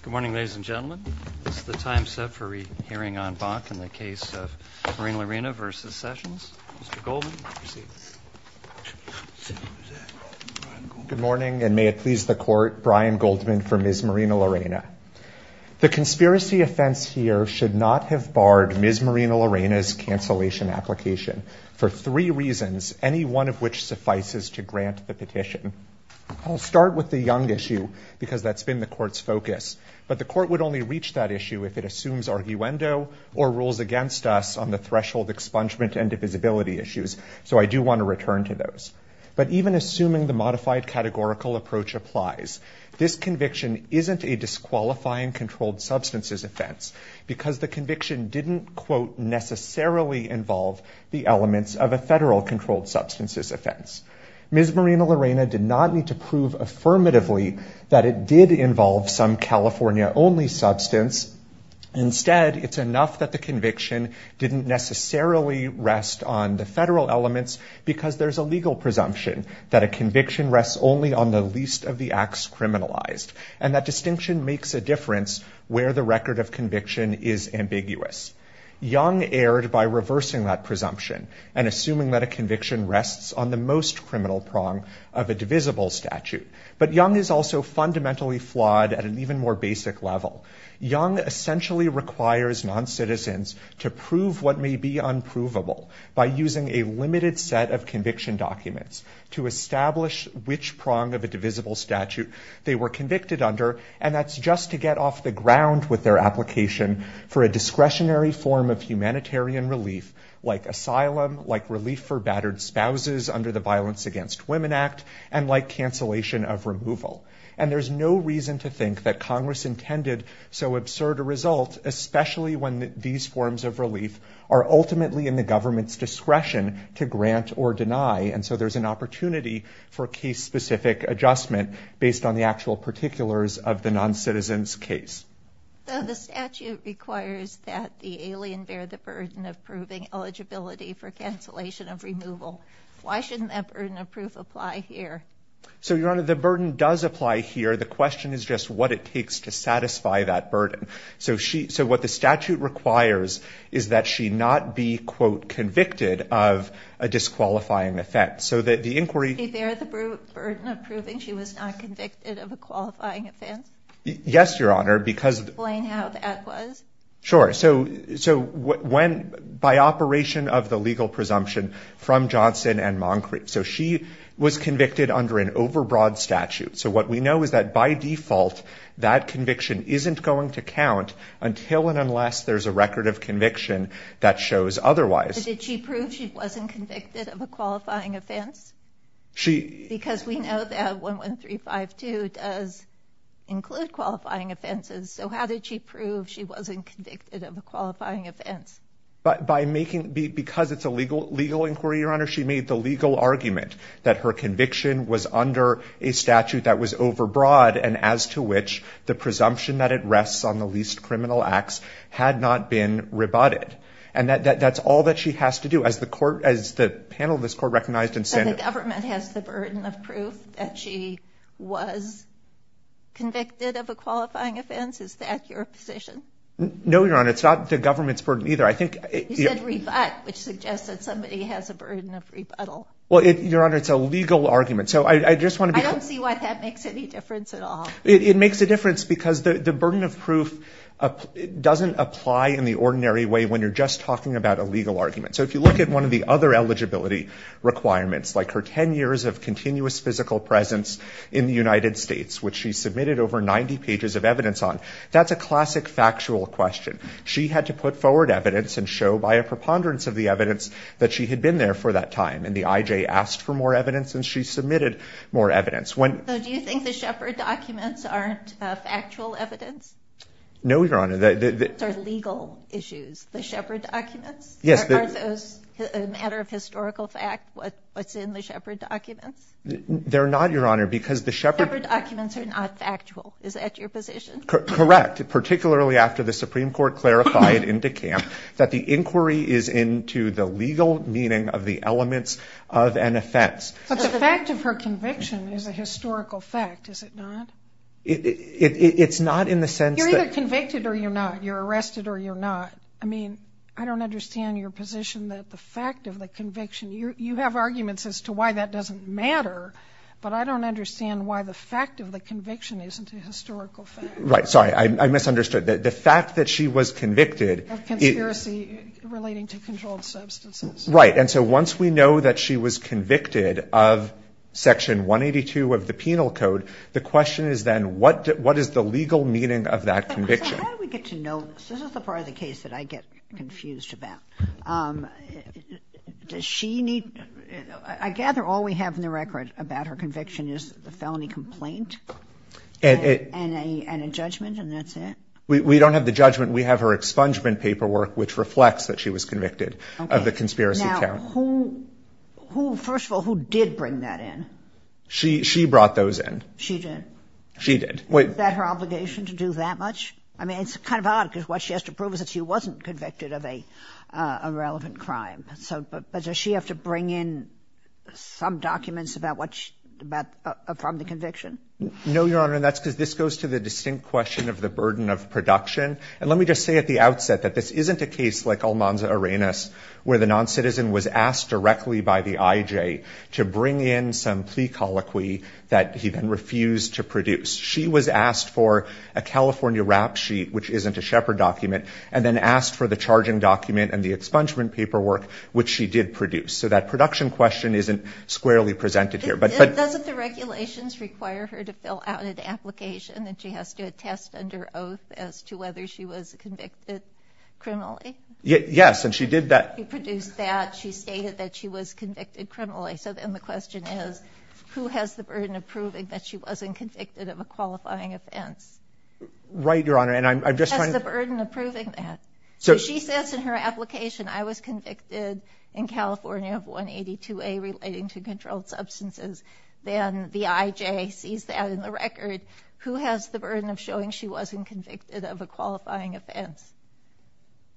Good morning, ladies and gentlemen. It's the time set for a hearing on Bach in the case of Marinelarena v. Sessions. Good morning, and may it please the court, Brian Goldman for Ms. Marinelarena. The conspiracy offense here should not have barred Ms. Marinelarena's cancellation application for three reasons, any one of which suffices to grant the petition. I'll start with the young issue because that's been the court's focus, but the court would only reach that issue if it assumes arguendo or rules against us on the threshold expungement and divisibility issues. So I do want to return to those. But even assuming the modified categorical approach applies, this conviction isn't a disqualifying controlled substances offense because the conviction didn't, quote, necessarily involve the elements of a federal controlled substances offense. Ms. Marinelarena did not need to prove affirmatively that it did involve some California-only substance. Instead, it's enough that the conviction didn't necessarily rest on the federal elements because there's a legal presumption that a conviction rests only on the least of the acts criminalized, and that distinction makes a difference where the record of conviction is ambiguous. Young erred by reversing that presumption and assuming that a conviction rests on the most criminal prong of a divisible statute. But Young is also fundamentally flawed at an even more basic level. Young essentially requires non-citizens to prove what may be unprovable by using a limited set of conviction documents to establish which prong of a divisible statute they were convicted under and that's just to get off the ground with their application for a discretionary form of humanitarian relief like asylum, like relief for battered spouses under the Violence Against Women Act, and like cancellation of removal. And there's no reason to think that Congress intended so absurd a result, especially when these forms of relief are ultimately in the government's discretion to grant or deny. And so there's an opportunity for case-specific adjustment based on the actual particulars of the non-citizens case. So the statute requires that the alien bear the burden of proving eligibility for cancellation of removal. Why shouldn't that burden of proof apply here? So, Your Honor, the burden does apply here. The question is just what it takes to satisfy that burden. So what the statute requires is that she not be, quote, convicted of a disqualifying offense. So that the inquiry... Did she bear the burden of proving she was not convicted of a qualifying offense? Yes, Your Honor, because... Explain how that was? Sure. So, so when, by operation of the legal presumption from Johnson and Moncrief. So she was convicted under an overbroad statute. So what we know is that by default that conviction isn't going to count until and unless there's a record of conviction that shows otherwise. Did she prove she wasn't convicted of a qualifying offense? She... Because we know that 11352 does include qualifying offenses. So how did she prove she wasn't convicted of a qualifying offense? But by making... Because it's a legal inquiry, Your Honor, she made the legal argument that her conviction was under a statute that was overbroad and as to which the presumption that it rests on the least criminal acts had not been rebutted. And that's all that she has to do. As the court, as the panel of this court recognized and said... So the government has the burden of proof that she was convicted of a qualifying offense? Is that your position? No, Your Honor, it's not the government's burden either. I think... You said rebut, which suggests that somebody has a burden of rebuttal. Well, Your Honor, it's a legal argument. So I just want to be... I don't see why that makes any difference at all. It makes a difference because the burden of proof doesn't apply in the ordinary way when you're just talking about a legal argument. So if you look at one of the other eligibility requirements, like her 10 years of continuous physical presence in the United States, which she submitted over 90 pages of evidence on, that's a classic factual question. She had to put forward evidence and show by a preponderance of the evidence that she had been there for that time. And the IJ asked for more evidence and she submitted more evidence. So do you think the Shepard documents aren't factual evidence? No, Your Honor. They're legal issues. The Shepard documents? Yes. Are those a matter of historical fact? What's in the Shepard documents? They're not, Your Honor, because the Shepard... Shepard documents are not factual. Is that your position? Correct. Particularly after the Supreme Court clarified in DeKalb that the inquiry is into the legal meaning of the elements of an offense. But the fact of her conviction is a historical fact, is it not? It's not in the sense that... You're either convicted or you're not. You're arrested or you're not. I mean, I don't understand your position that the fact of the conviction, you have arguments as to why that doesn't matter. But I don't understand why the fact of the conviction isn't a historical fact. Right. Sorry, I misunderstood. The fact that she was convicted... Of conspiracy relating to controlled substances. Right. And so once we know that she was convicted of Section 182 of the Penal Code, the question is then, what is the legal meaning of that conviction? So how do we get to know... This is the part of the case that I get confused about. Does she need... I gather all we have in the record about her conviction is the felony complaint and a judgment and that's it? We don't have the judgment. We have her expungement paperwork, which reflects that she was convicted of the conspiracy count. Now, who... First of all, who did bring that in? She brought those in. She did? She did. Was that her obligation to do that much? I mean, it's kind of odd because what she has to prove is that she wasn't convicted of a irrelevant crime. So does she have to bring in some documents about what she... from the conviction? No, Your Honor, and that's because this goes to the distinct question of the burden of production. And let me just say at the outset that this isn't a case like Almanza-Arenas, where the non-citizen was asked directly by the IJ to bring in some plea colloquy that he then refused to produce. She was asked for a California rap sheet, which isn't a Shepard document, and then asked for the charging document and the expungement paperwork, which she did produce. So that production question isn't squarely presented here. But doesn't the regulations require her to fill out an application that she has to attest under oath as to whether she was convicted criminally? Yes, and she did that. She produced that. She stated that she was convicted criminally. So then the question is, who has the burden of proving that she wasn't convicted of a qualifying offense? Right, Your Honor, and I'm just trying to... Who has the burden of proving that? So she says in her application, I was convicted in California of 182A relating to controlled substances. Then the IJ sees that in the record. Who has the burden of showing she wasn't convicted of a qualifying offense?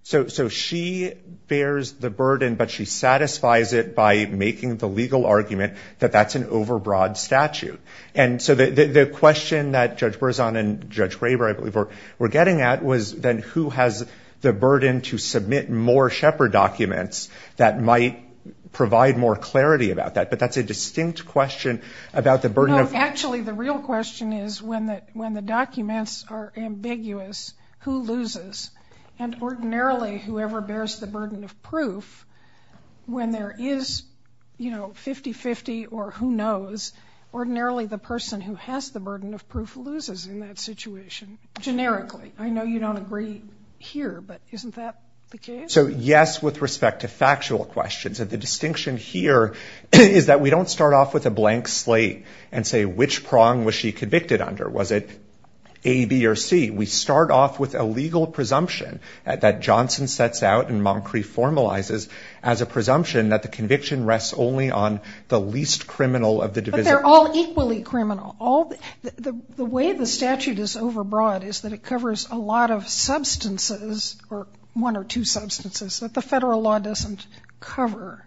So she bears the burden, but she satisfies it by making the legal argument that that's an overbroad statute. And so the question that Judge Berzon and Judge Graber, I believe, were getting at was then, who has the burden to submit more Shepard documents that might provide more clarity about that? But that's a distinct question about the burden of... Actually, the real question is when the documents are ambiguous, who loses? And ordinarily, whoever bears the burden of proof, when there is, you know, 50-50 or who knows, ordinarily the person who has the burden of proof loses in that situation, generically. I know you don't agree here, but isn't that the case? So yes, with respect to factual questions. The distinction here is that we don't start off with a blank slate and say, which prong was she convicted under? Was it A, B, or C? We start off with a legal presumption that Johnson sets out and Moncrief formalizes as a presumption that the conviction rests only on the least criminal of the divisor. But they're all equally criminal. The way the statute is overbroad is that it covers a lot of substances, or one or two substances, that the federal law doesn't cover.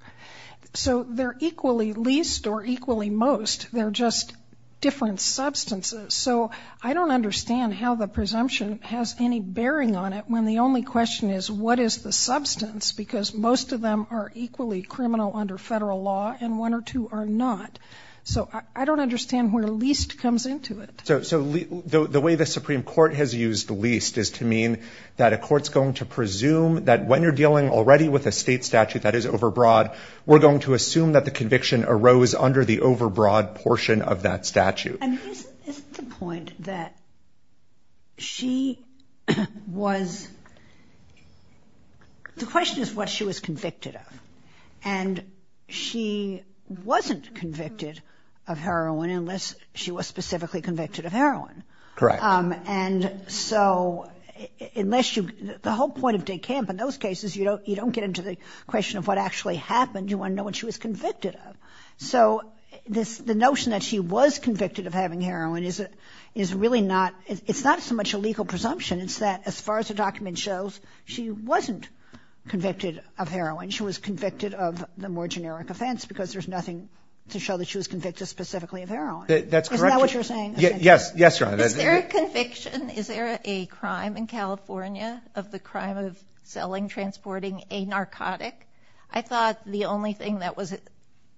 So they're equally least or equally most. They're just different substances. So I don't understand how the presumption has any bearing on it when the only question is what is the substance? Because most of them are equally criminal under federal law, and one or two are not. So I don't understand where least comes into it. So the way the Supreme Court has used least is to mean that a court's going to presume that when you're dealing already with a state statute that is overbroad, we're going to assume that the conviction arose under the overbroad portion of that statute. And isn't the point that she was, the question is what she was convicted of. And she wasn't convicted of heroin unless she was specifically convicted of heroin. Correct. And so unless you, the whole point of Dick Kemp in those cases, you don't get into the question of what actually happened. You want to know what she was convicted of. So the notion that she was convicted of having heroin is really not, it's not so much a legal presumption. It's that as far as the document shows, she wasn't convicted of heroin. She was convicted of the more generic offense because there's nothing to show that she was convicted specifically of heroin. That's correct. Isn't that what you're saying? Yes. Yes, Your Honor. Is there a conviction? Is there a crime in California of the crime of selling, transporting a narcotic? I thought the only thing that was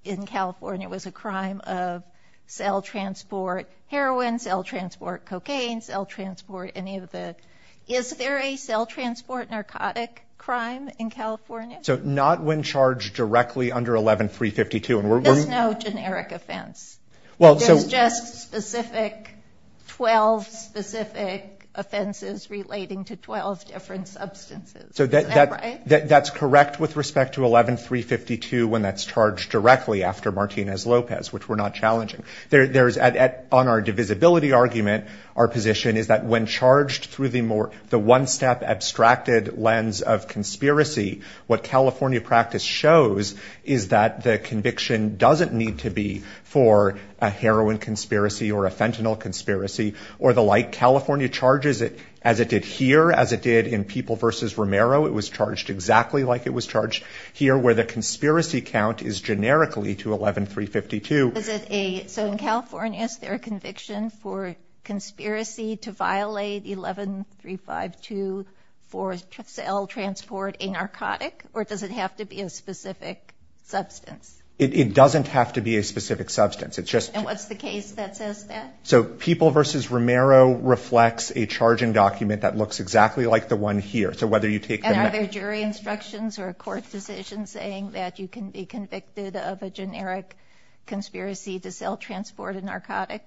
in California was a crime of cell transport, heroin, cell transport, cocaine, cell transport, any of the, is there a cell transport narcotic crime in California? So not when charged directly under 11-352. There's no generic offense. There's just specific, 12 specific offenses relating to 12 different substances. So that's correct with respect to 11-352 when that's charged directly after Martinez-Lopez, which we're not challenging. There's, on our divisibility argument, our position is that when charged through the one-step abstracted lens of conspiracy, what California practice shows is that the conviction doesn't need to be for a heroin conspiracy or a fentanyl conspiracy or the like, California charges it as it did here, as it did in People v. Romero. It was charged exactly like it was charged here where the conspiracy count is generically to 11-352. Is it a, so in California, is there a conviction for conspiracy to violate 11-352 for cell transport a narcotic, or does it have to be a specific substance? It doesn't have to be a specific substance. It's just. And what's the case that says that? So People v. Romero reflects a charging document that looks exactly like the one here. So whether you take the. And are there jury instructions or a court decision saying that you can be convicted of a generic conspiracy to cell transport a narcotic?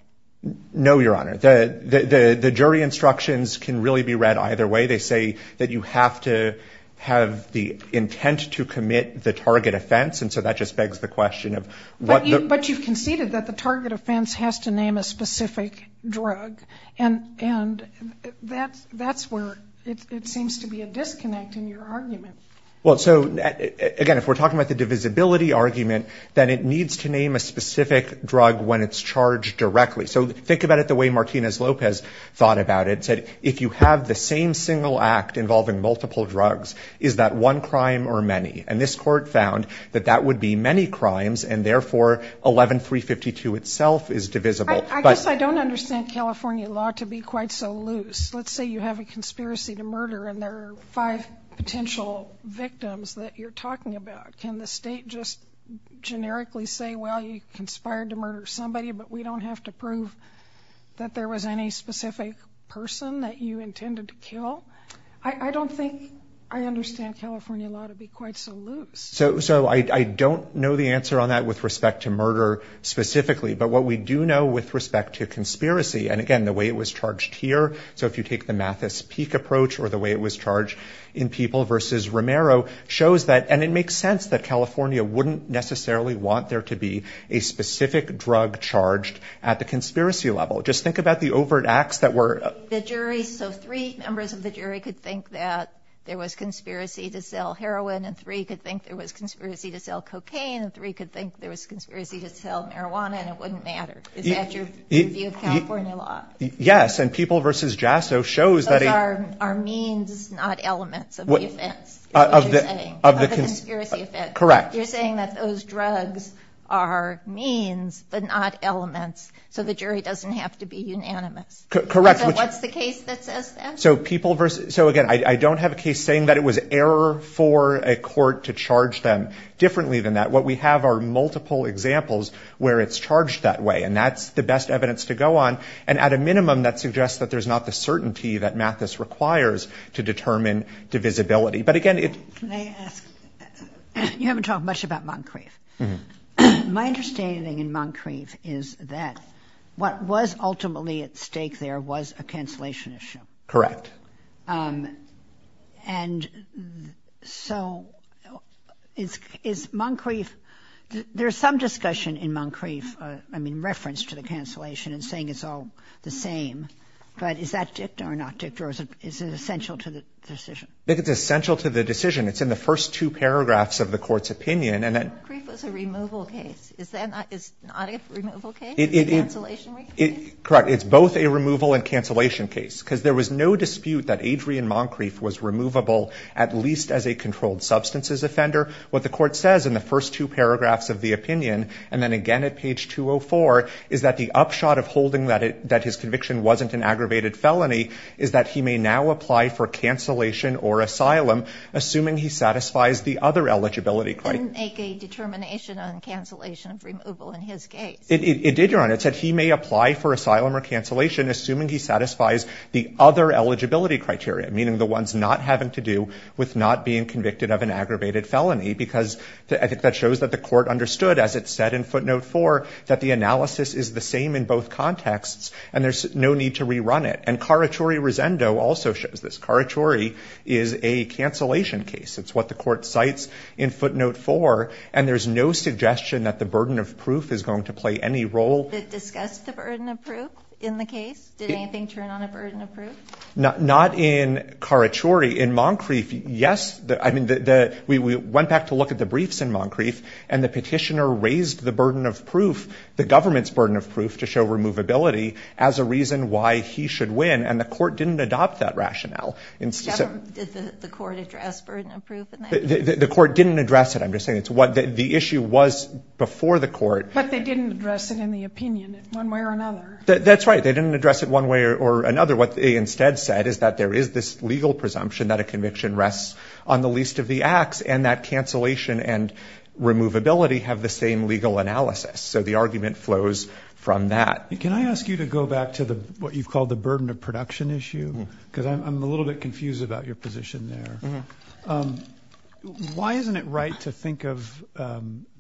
No, Your Honor. The jury instructions can really be read either way. They say that you have to have the intent to commit the target offense. And so that just begs the question of. But you've conceded that the target offense has to name a specific drug. And that's where it seems to be a disconnect in your argument. Well, so again, if we're talking about the divisibility argument, then it needs to name a specific drug when it's charged directly. So think about it the way Martinez-Lopez thought about it. If you have the same single act involving multiple drugs, is that one crime or many? And this court found that that would be many crimes. And therefore, 11-352 itself is divisible. I guess I don't understand California law to be quite so loose. Let's say you have a conspiracy to murder. And there are five potential victims that you're talking about. Can the state just generically say, well, you conspired to murder somebody. But we don't have to prove that there was any specific person that you intended to kill. I don't think I understand California law to be quite so loose. So I don't know the answer on that with respect to murder specifically. But what we do know with respect to conspiracy. And again, the way it was charged here. So if you take the Mathis-Peake approach or the way it was charged in People v. Romero, shows that and it makes sense that California wouldn't necessarily want there to be a specific drug charged at the conspiracy level. Just think about the overt acts that were. The jury, so three members of the jury could think that there was conspiracy to sell heroin. And three could think there was conspiracy to sell cocaine. And three could think there was conspiracy to sell marijuana. And it wouldn't matter. Is that your view of California law? Yes. And People v. Jasso shows that. Those are means, not elements of the offense, is what you're saying, of the conspiracy offense. Correct. You're saying that those drugs are means, but not elements. So the jury doesn't have to be unanimous. Correct. So what's the case that says that? So People v. So again, I don't have a case saying that it was error for a court to charge them differently than that. What we have are multiple examples where it's charged that way. And that's the best evidence to go on. And at a minimum, that suggests that there's not the certainty that Mathis requires to determine divisibility. But again, it. Can I ask, you haven't talked much about Moncrief. My understanding in Moncrief is that what was ultimately at stake there was a cancellation issue. Correct. And so is Moncrief, there's some discussion in Moncrief, I mean, reference to the cancellation and saying it's all the same. But is that dicta or not dicta? Or is it essential to the decision? I think it's essential to the decision. It's in the first two paragraphs of the court's opinion. And then. Moncrief was a removal case. Is that not a removal case? It is. A cancellation case? Correct. It's both a removal and cancellation case. Because there was no dispute that Adrian Moncrief was removable, at least as a controlled substances offender. What the court says in the first two paragraphs of the opinion, and then again at page 204, is that the upshot of holding that his conviction wasn't an aggravated felony is that he may now apply for cancellation or asylum, assuming he satisfies the other eligibility criteria. Didn't make a determination on cancellation of removal in his case. It did, Your Honor. It said he may apply for asylum or cancellation assuming he satisfies the other eligibility criteria, meaning the ones not having to do with not being convicted of an aggravated felony. Because I think that shows that the court understood, as it said in footnote four, that the analysis is the same in both contexts. And there's no need to rerun it. And Carachuri-Rosendo also shows this. Carachuri is a cancellation case. It's what the court cites in footnote four. And there's no suggestion that the burden of proof is going to play any role. Did it discuss the burden of proof in the case? Did anything turn on a burden of proof? Not in Carachuri. In Moncrief, yes. I mean, we went back to look at the briefs in Moncrief. And the petitioner raised the burden of proof, the government's burden of proof, to show removability as a reason why he should win. And the court didn't adopt that rationale. And so- Did the court address burden of proof in that? The court didn't address it. I'm just saying it's what the issue was before the court. But they didn't address it in the opinion in one way or another. That's right. They didn't address it one way or another. What they instead said is that there is this legal presumption that a conviction rests on the least of the acts, and that cancellation and removability have the same legal analysis. So the argument flows from that. Can I ask you to go back to what you've called the burden of production issue? Because I'm a little bit confused about your position there. Why isn't it right to think of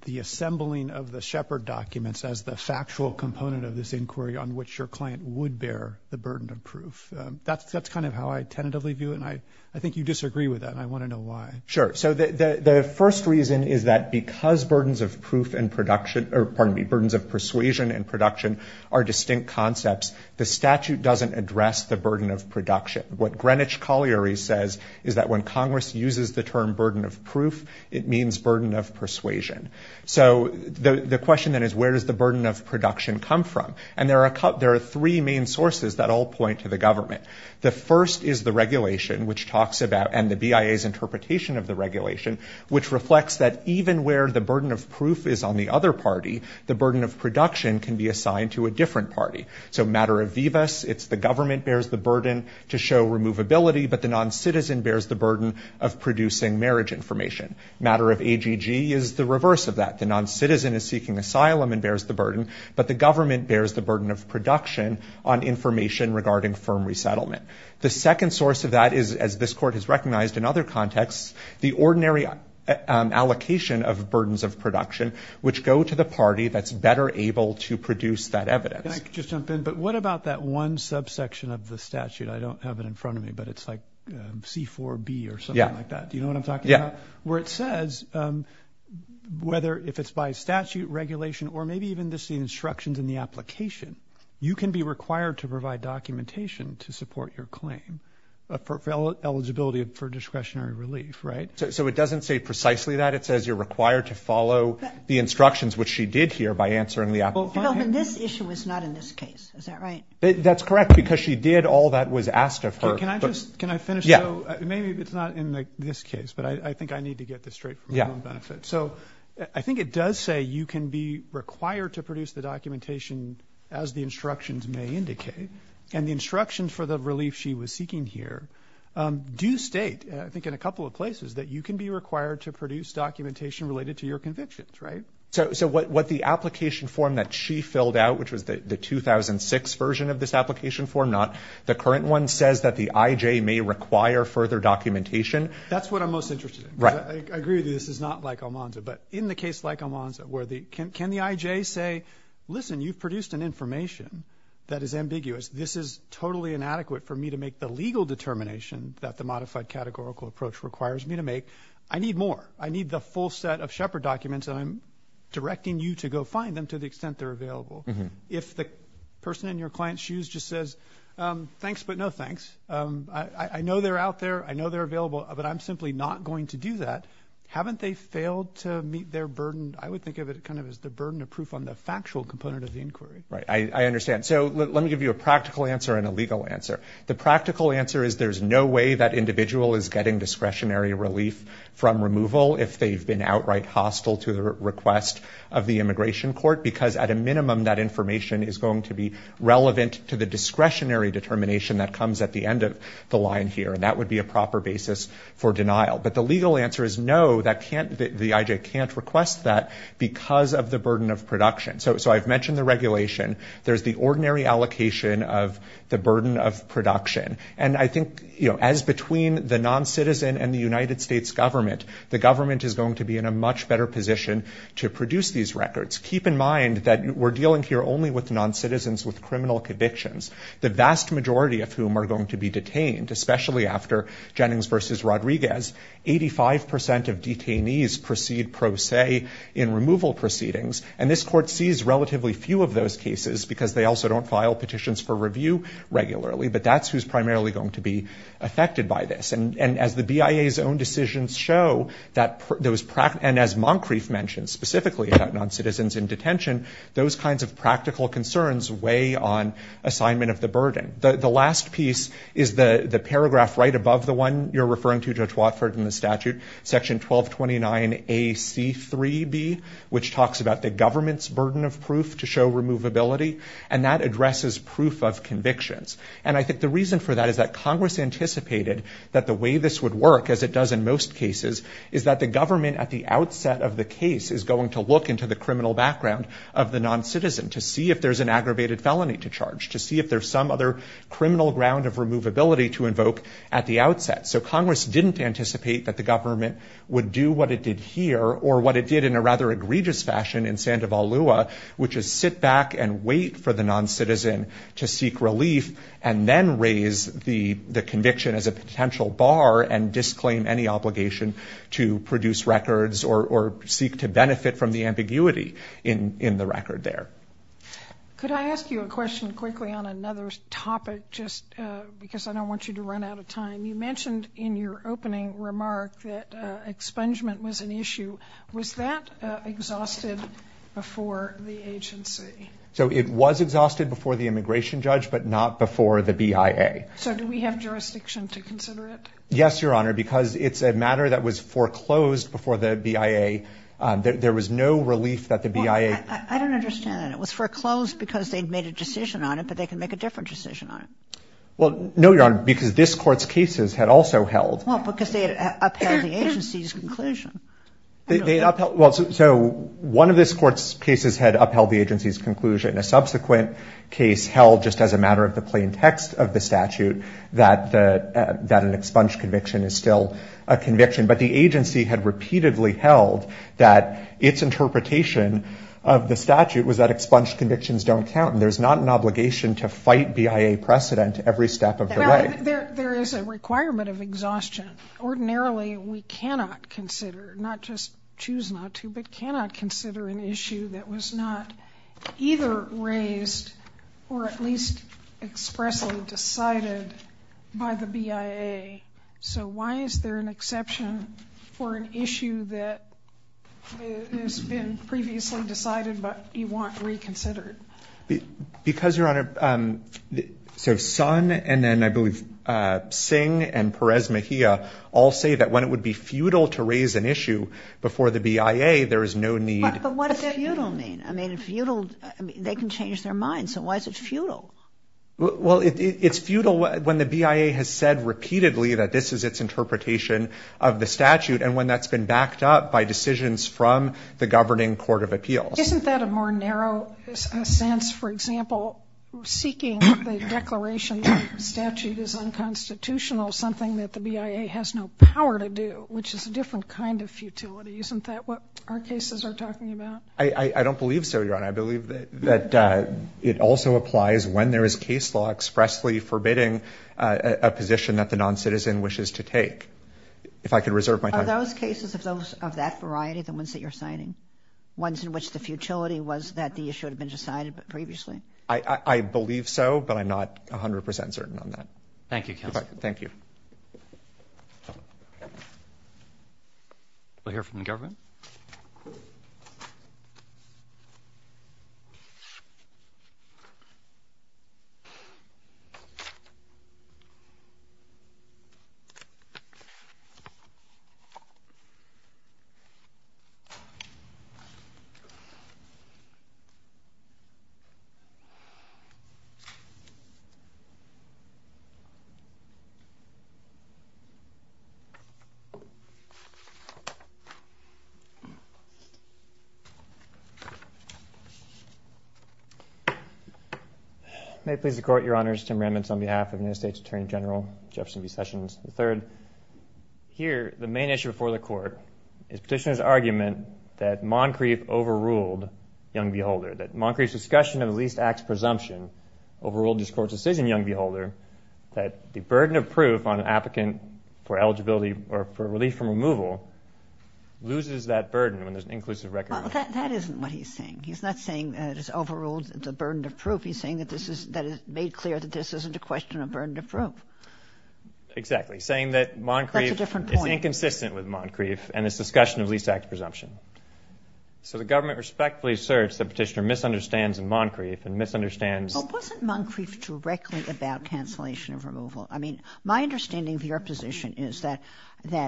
the assembling of the Shepard documents as the factual component of this inquiry on which your client would bear the burden of proof? That's kind of how I tentatively view it, and I think you disagree with that, and I want to know why. Sure, so the first reason is that because burdens of proof and pardon me, burdens of persuasion and production are distinct concepts, the statute doesn't address the burden of production. What Greenwich Colliery says is that when Congress uses the term burden of proof, it means burden of persuasion. So the question then is, where does the burden of production come from? And there are three main sources that all point to the government. The first is the regulation, which talks about, and the BIA's interpretation of the regulation, which reflects that even where the burden of proof is on the other party, the burden of production can be assigned to a different party. So matter of vivis, it's the government bears the burden to show removability, but the non-citizen bears the burden of producing marriage information. Matter of AGG is the reverse of that. The non-citizen is seeking asylum and bears the burden, but the government bears the burden of production on information regarding firm resettlement. The second source of that is, as this court has recognized in other contexts, the ordinary allocation of burdens of production, which go to the party that's better able to produce that evidence. Can I just jump in? But what about that one subsection of the statute? I don't have it in front of me, but it's like C4B or something like that. Do you know what I'm talking about? Where it says, whether if it's by statute, regulation, or maybe even just the instructions in the application, you can be required to provide documentation to support your claim for eligibility for discretionary relief, right? So it doesn't say precisely that. It says you're required to follow the instructions, which she did here by answering the application. This issue is not in this case, is that right? That's correct, because she did, all that was asked of her. Can I just, can I finish? Yeah. Maybe it's not in this case, but I think I need to get this straight for my own benefit. So I think it does say you can be required to produce the documentation as the instructions may indicate. And the instructions for the relief she was seeking here do state, I think, in a couple of places, that you can be required to produce documentation related to your convictions, right? So what the application form that she filled out, which was the 2006 version of this application form, not the current one, says that the IJ may require further documentation. That's what I'm most interested in, because I agree that this is not like Almanza, but in the case like Almanza, where the, can the IJ say, listen, you've produced an information that is ambiguous. This is totally inadequate for me to make the legal determination that the modified categorical approach requires me to make. I need more. I need the full set of Shepard documents, and I'm directing you to go find them to the extent they're available. If the person in your client's shoes just says, thanks, but no thanks. I know they're out there. I know they're available, but I'm simply not going to do that. Haven't they failed to meet their burden? I would think of it kind of as the burden of proof on the factual component of the inquiry. Right, I understand. So let me give you a practical answer and a legal answer. The practical answer is there's no way that individual is getting discretionary relief from removal if they've been outright hostile to the request of the immigration court, because at a minimum that information is going to be relevant to the discretionary determination that comes at the end of the line here, and that would be a proper basis for denial. But the legal answer is no, the IJ can't request that because of the burden of production. So I've mentioned the regulation. There's the ordinary allocation of the burden of production. And I think as between the non-citizen and the United States government, the government is going to be in a much better position to produce these records. Keep in mind that we're dealing here only with non-citizens with criminal convictions, the vast majority of whom are going to be detained, especially after Jennings versus Rodriguez. 85% of detainees proceed pro se in removal proceedings. And this court sees relatively few of those cases, because they also don't file petitions for review regularly. But that's who's primarily going to be affected by this. And as the BIA's own decisions show, and as Moncrief mentioned, specifically about non-citizens in detention, those kinds of practical concerns weigh on assignment of the burden. The last piece is the paragraph right above the one you're referring to, Judge Watford, in the statute, section 1229 AC3B, which talks about the government's burden of proof to show removability. And that addresses proof of convictions. And I think the reason for that is that Congress anticipated that the way this would work, as it does in most cases, is that the government at the outset of the case is going to look into the criminal background of the non-citizen. To see if there's an aggravated felony to charge, to see if there's some other criminal ground of removability to invoke at the outset. So Congress didn't anticipate that the government would do what it did here, or what it did in a rather egregious fashion in Sandoval Lua. Which is sit back and wait for the non-citizen to seek relief. And then raise the conviction as a potential bar and disclaim any obligation to produce records or seek to benefit from the ambiguity in the record there. Could I ask you a question quickly on another topic, just because I don't want you to run out of time. You mentioned in your opening remark that expungement was an issue. Was that exhausted before the agency? So it was exhausted before the immigration judge, but not before the BIA. So do we have jurisdiction to consider it? Yes, Your Honor, because it's a matter that was foreclosed before the BIA. There was no relief that the BIA- Well, I don't understand that. It was foreclosed because they'd made a decision on it, but they can make a different decision on it. Well, no, Your Honor, because this court's cases had also held- Well, because they had upheld the agency's conclusion. They upheld, well, so one of this court's cases had upheld the agency's conclusion. A subsequent case held, just as a matter of the plain text of the statute, that an expunged conviction is still a conviction. But the agency had repeatedly held that its interpretation of the statute was that expunged convictions don't count. And there's not an obligation to fight BIA precedent every step of the way. There is a requirement of exhaustion. Ordinarily, we cannot consider, not just choose not to, but cannot consider an issue that was not either raised or at least expressly decided by the BIA. So why is there an exception for an issue that has been previously decided but you want reconsidered? Because, Your Honor, so Sun and then, I believe, Singh and Perez Mejia all say that when it would be futile to raise an issue before the BIA, there is no need- But what does futile mean? I mean, futile, they can change their minds, so why is it futile? Well, it's futile when the BIA has said repeatedly that this is its interpretation of the statute, and when that's been backed up by decisions from the governing court of appeals. Isn't that a more narrow sense? For example, seeking the declaration of statute is unconstitutional, something that the BIA has no power to do, which is a different kind of futility. Isn't that what our cases are talking about? I don't believe so, Your Honor. I believe that it also applies when there is case law expressly forbidding a position that the non-citizen wishes to take. If I could reserve my time- Are those cases of that variety the ones that you're citing? Ones in which the futility was that the issue had been decided previously? I believe so, but I'm not 100% certain on that. Thank you, counsel. Thank you. We'll hear from the government. May it please the court, Your Honors, Tim Rammons on behalf of the United States Attorney General, Jefferson B. Sessions III. Here, the main issue before the court is Petitioner's argument that Moncrief overruled Young v. Holder, that Moncrief's discussion of the Least Acts Presumption overruled this court's decision, Young v. Holder, that the burden of proof on an applicant for eligibility or for relief from removal loses that burden when there's an inclusive record of- That isn't what he's saying. He's not saying that it's overruled, it's a burden of proof. He's saying that it's made clear that this isn't a question of burden of proof. Exactly. Saying that Moncrief is inconsistent with Moncrief and its discussion of Least Acts Presumption. So the government respectfully asserts that Petitioner misunderstands in Moncrief and misunderstands- But wasn't Moncrief directly about cancellation of removal? I mean, my understanding of your position is that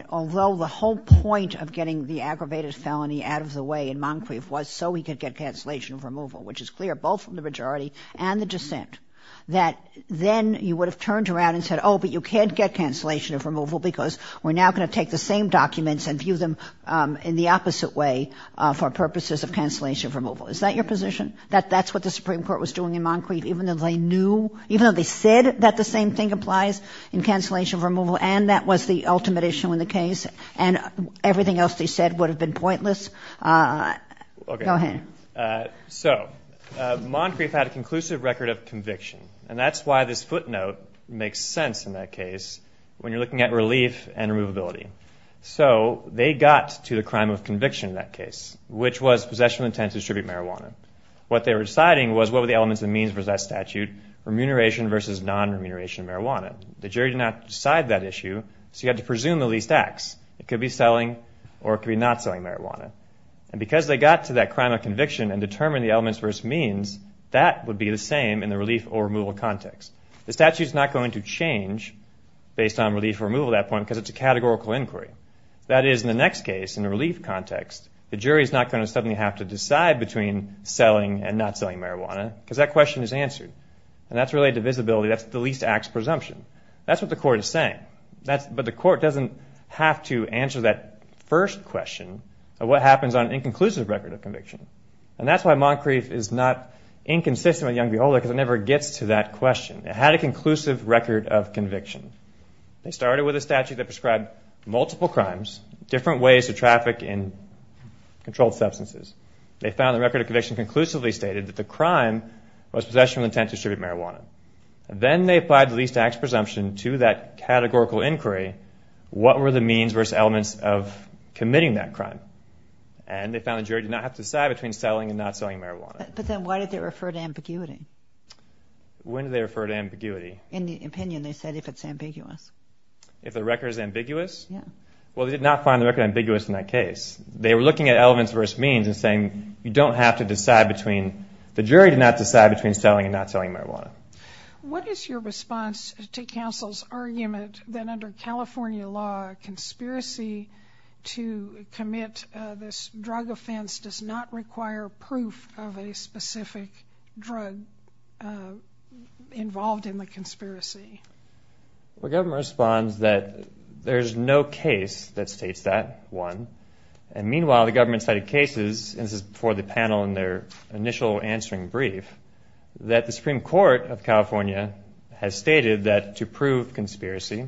although the whole point of getting the aggravated felony out of the way in Moncrief was so he could get cancellation of removal, which is clear both from the majority and the dissent, that then you would have turned around and said, oh, but you can't get cancellation of removal because we're now going to take the same documents and view them in the opposite way for purposes of cancellation of removal. Is that your position? That that's what the Supreme Court was doing in Moncrief even though they knew, even though they said that the same thing applies in cancellation of removal and that was the ultimate issue in the case and everything else they said would have been pointless? Go ahead. So Moncrief had a conclusive record of conviction and that's why this footnote makes sense in that case when you're looking at relief and removability. So they got to the crime of conviction in that case, which was possession of intent to distribute marijuana. What they were deciding was what were the elements and means of that statute, remuneration versus non-remuneration of marijuana. The jury did not decide that issue, so you had to presume the least acts. It could be selling or it could be not selling marijuana. And because they got to that crime of conviction and determined the elements versus means, that would be the same in the relief or removal context. The statute's not going to change based on relief or removal at that point because it's a categorical inquiry. That is, in the next case, in the relief context, the jury's not going to suddenly have to decide between selling and not selling marijuana because that question is answered and that's related to visibility. That's the least acts presumption. That's what the court is saying, but the court doesn't have to answer that first question of what happens on an inconclusive record of conviction. And that's why Moncrief is not inconsistent with Young Beholder because it never gets to that question. It had a conclusive record of conviction. They started with a statute that prescribed multiple crimes, different ways to traffic in controlled substances. They found the record of conviction conclusively stated that the crime was possession of intent to distribute marijuana. Then they applied the least acts presumption to that categorical inquiry. What were the means versus elements of committing that crime? And they found the jury did not have to decide between selling and not selling marijuana. But then why did they refer to ambiguity? When did they refer to ambiguity? In the opinion, they said if it's ambiguous. If the record is ambiguous? Yeah. Well, they did not find the record ambiguous in that case. They were looking at elements versus means and saying, you don't have to decide between, the jury did not decide between selling and not selling marijuana. What is your response to counsel's argument that under California law, conspiracy to commit this drug offense does not require proof of a specific drug involved in the conspiracy? Well, the government responds that there's no case that states that one. And meanwhile, the government cited cases, and this is before the panel in their initial answering brief, that the Supreme Court of California has stated that to prove conspiracy,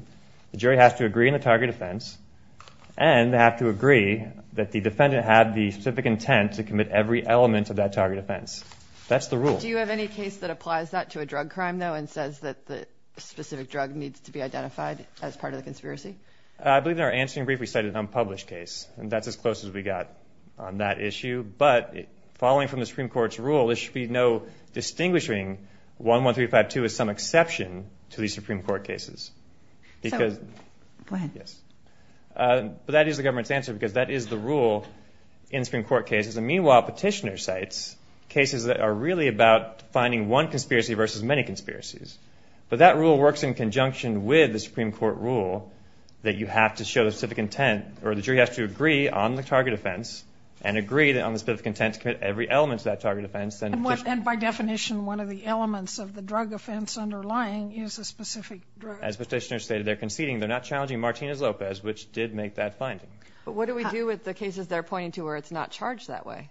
the jury has to agree on the target offense, and they have to agree that the defendant had the specific intent to commit every element of that target offense. That's the rule. Do you have any case that applies that to a drug crime, though, and says that the specific drug needs to be identified as part of the conspiracy? I believe in our answering brief, we cited an unpublished case. And that's as close as we got on that issue. But following from the Supreme Court's rule, there should be no distinguishing 11352 as some exception to these Supreme Court cases. Because- Go ahead. But that is the government's answer, because that is the rule in Supreme Court cases. And meanwhile, petitioner cites cases that are really about finding one conspiracy versus many conspiracies. But that rule works in conjunction with the Supreme Court rule that you have to show the specific intent, or the jury has to agree on the target offense, and agree on the specific intent to commit every element of that target offense. And by definition, one of the elements of the drug offense underlying is a specific drug. As the petitioner stated, they're conceding. They're not challenging Martinez-Lopez, which did make that finding. But what do we do with the cases they're pointing to where it's not charged that way?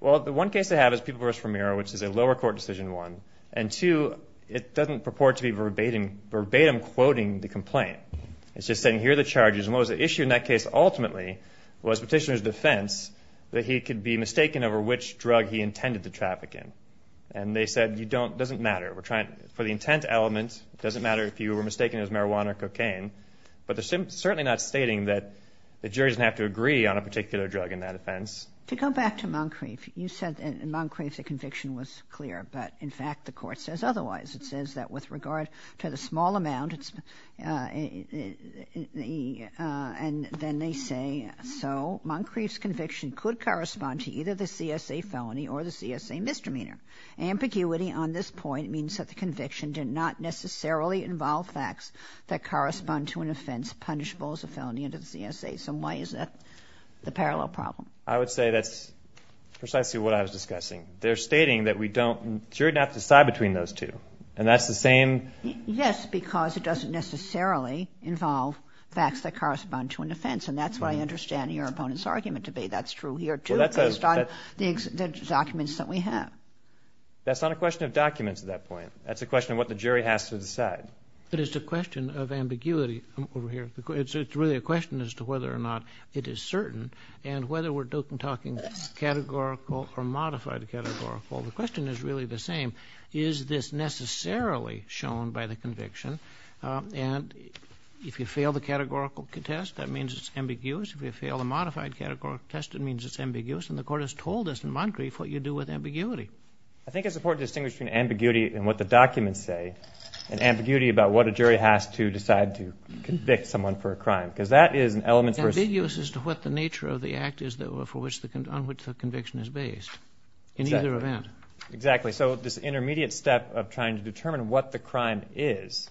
Well, the one case they have is Pupil versus Vermeer, which is a lower court decision one. And two, it doesn't purport to be verbatim quoting the complaint. It's just saying, here are the charges. And what was the issue in that case, ultimately, was petitioner's defense that he could be mistaken over which drug he intended to traffic in. And they said, you don't, it doesn't matter. We're trying, for the intent element, it doesn't matter if you were mistaken as marijuana or cocaine. But they're certainly not stating that the jury doesn't have to agree on a particular drug in that offense. To come back to Moncrief, you said in Moncrief the conviction was clear. But in fact, the court says otherwise. It says that with regard to the small amount, and then they say so, Moncrief's conviction could correspond to either the CSA felony or the CSA misdemeanor. Ambiguity on this point means that the conviction did not necessarily involve facts that correspond to an offense punishable as a felony under the CSA, so why is that the parallel problem? I would say that's precisely what I was discussing. They're stating that we don't, jury doesn't have to decide between those two. And that's the same. Yes, because it doesn't necessarily involve facts that correspond to an offense. And that's what I understand your opponent's argument to be. That's true here, too, based on the documents that we have. That's not a question of documents at that point. That's a question of what the jury has to decide. But it's a question of ambiguity over here. It's really a question as to whether or not it is certain. And whether we're talking categorical or modified categorical, the question is really the same. Is this necessarily shown by the conviction? And if you fail the categorical test, that means it's ambiguous. If you fail the modified categorical test, it means it's ambiguous. And the court has told us in Moncrief what you do with ambiguity. I think it's important to distinguish between ambiguity and what the documents say, and ambiguity about what a jury has to decide to convict someone for a crime. Because that is an element for us. It's ambiguous as to what the nature of the act is on which the conviction is based in either event. Exactly. So this intermediate step of trying to determine what the crime is,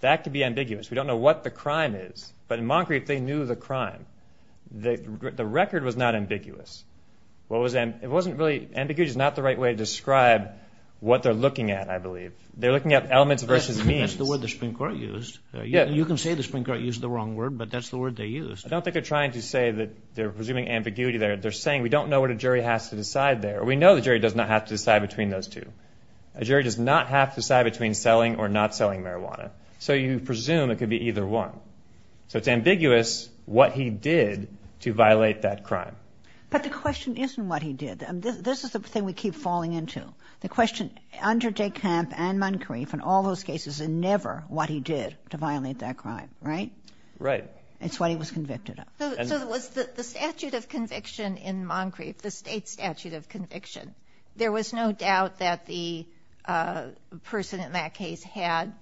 that could be ambiguous. We don't know what the crime is, but in Moncrief, they knew the crime. The record was not ambiguous. Ambiguity is not the right way to describe what they're looking at, I believe. They're looking at elements versus means. That's the word the Supreme Court used. You can say the Supreme Court used the wrong word, but that's the word they used. I don't think they're trying to say that they're presuming ambiguity there. They're saying, we don't know what a jury has to decide there. We know the jury does not have to decide between those two. A jury does not have to decide between selling or not selling marijuana. So you presume it could be either one. So it's ambiguous what he did to violate that crime. But the question isn't what he did. This is the thing we keep falling into. The question under De Camp and Moncrief and all those cases is never what he did to violate that crime, right? Right. It's what he was convicted of. So it was the statute of conviction in Moncrief, the state statute of conviction. There was no doubt that the person in that case had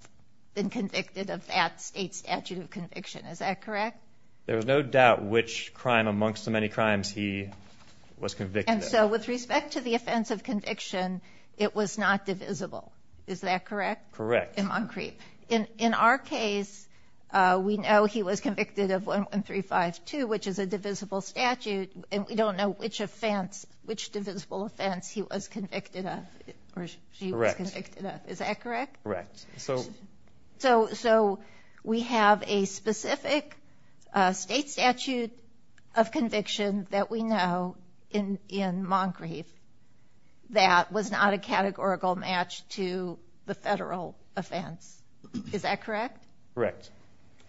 been convicted of that state statute of conviction. Is that correct? There was no doubt which crime amongst the many crimes he was convicted of. And so with respect to the offense of conviction, it was not divisible. Is that correct? Correct. In Moncrief. In our case, we know he was convicted of 11352, which is a divisible statute. And we don't know which divisible offense he was convicted of or she was convicted of. Is that correct? Correct. So we have a specific state statute of conviction that we know in Moncrief that was not a categorical match to the federal offense. Is that correct? Correct.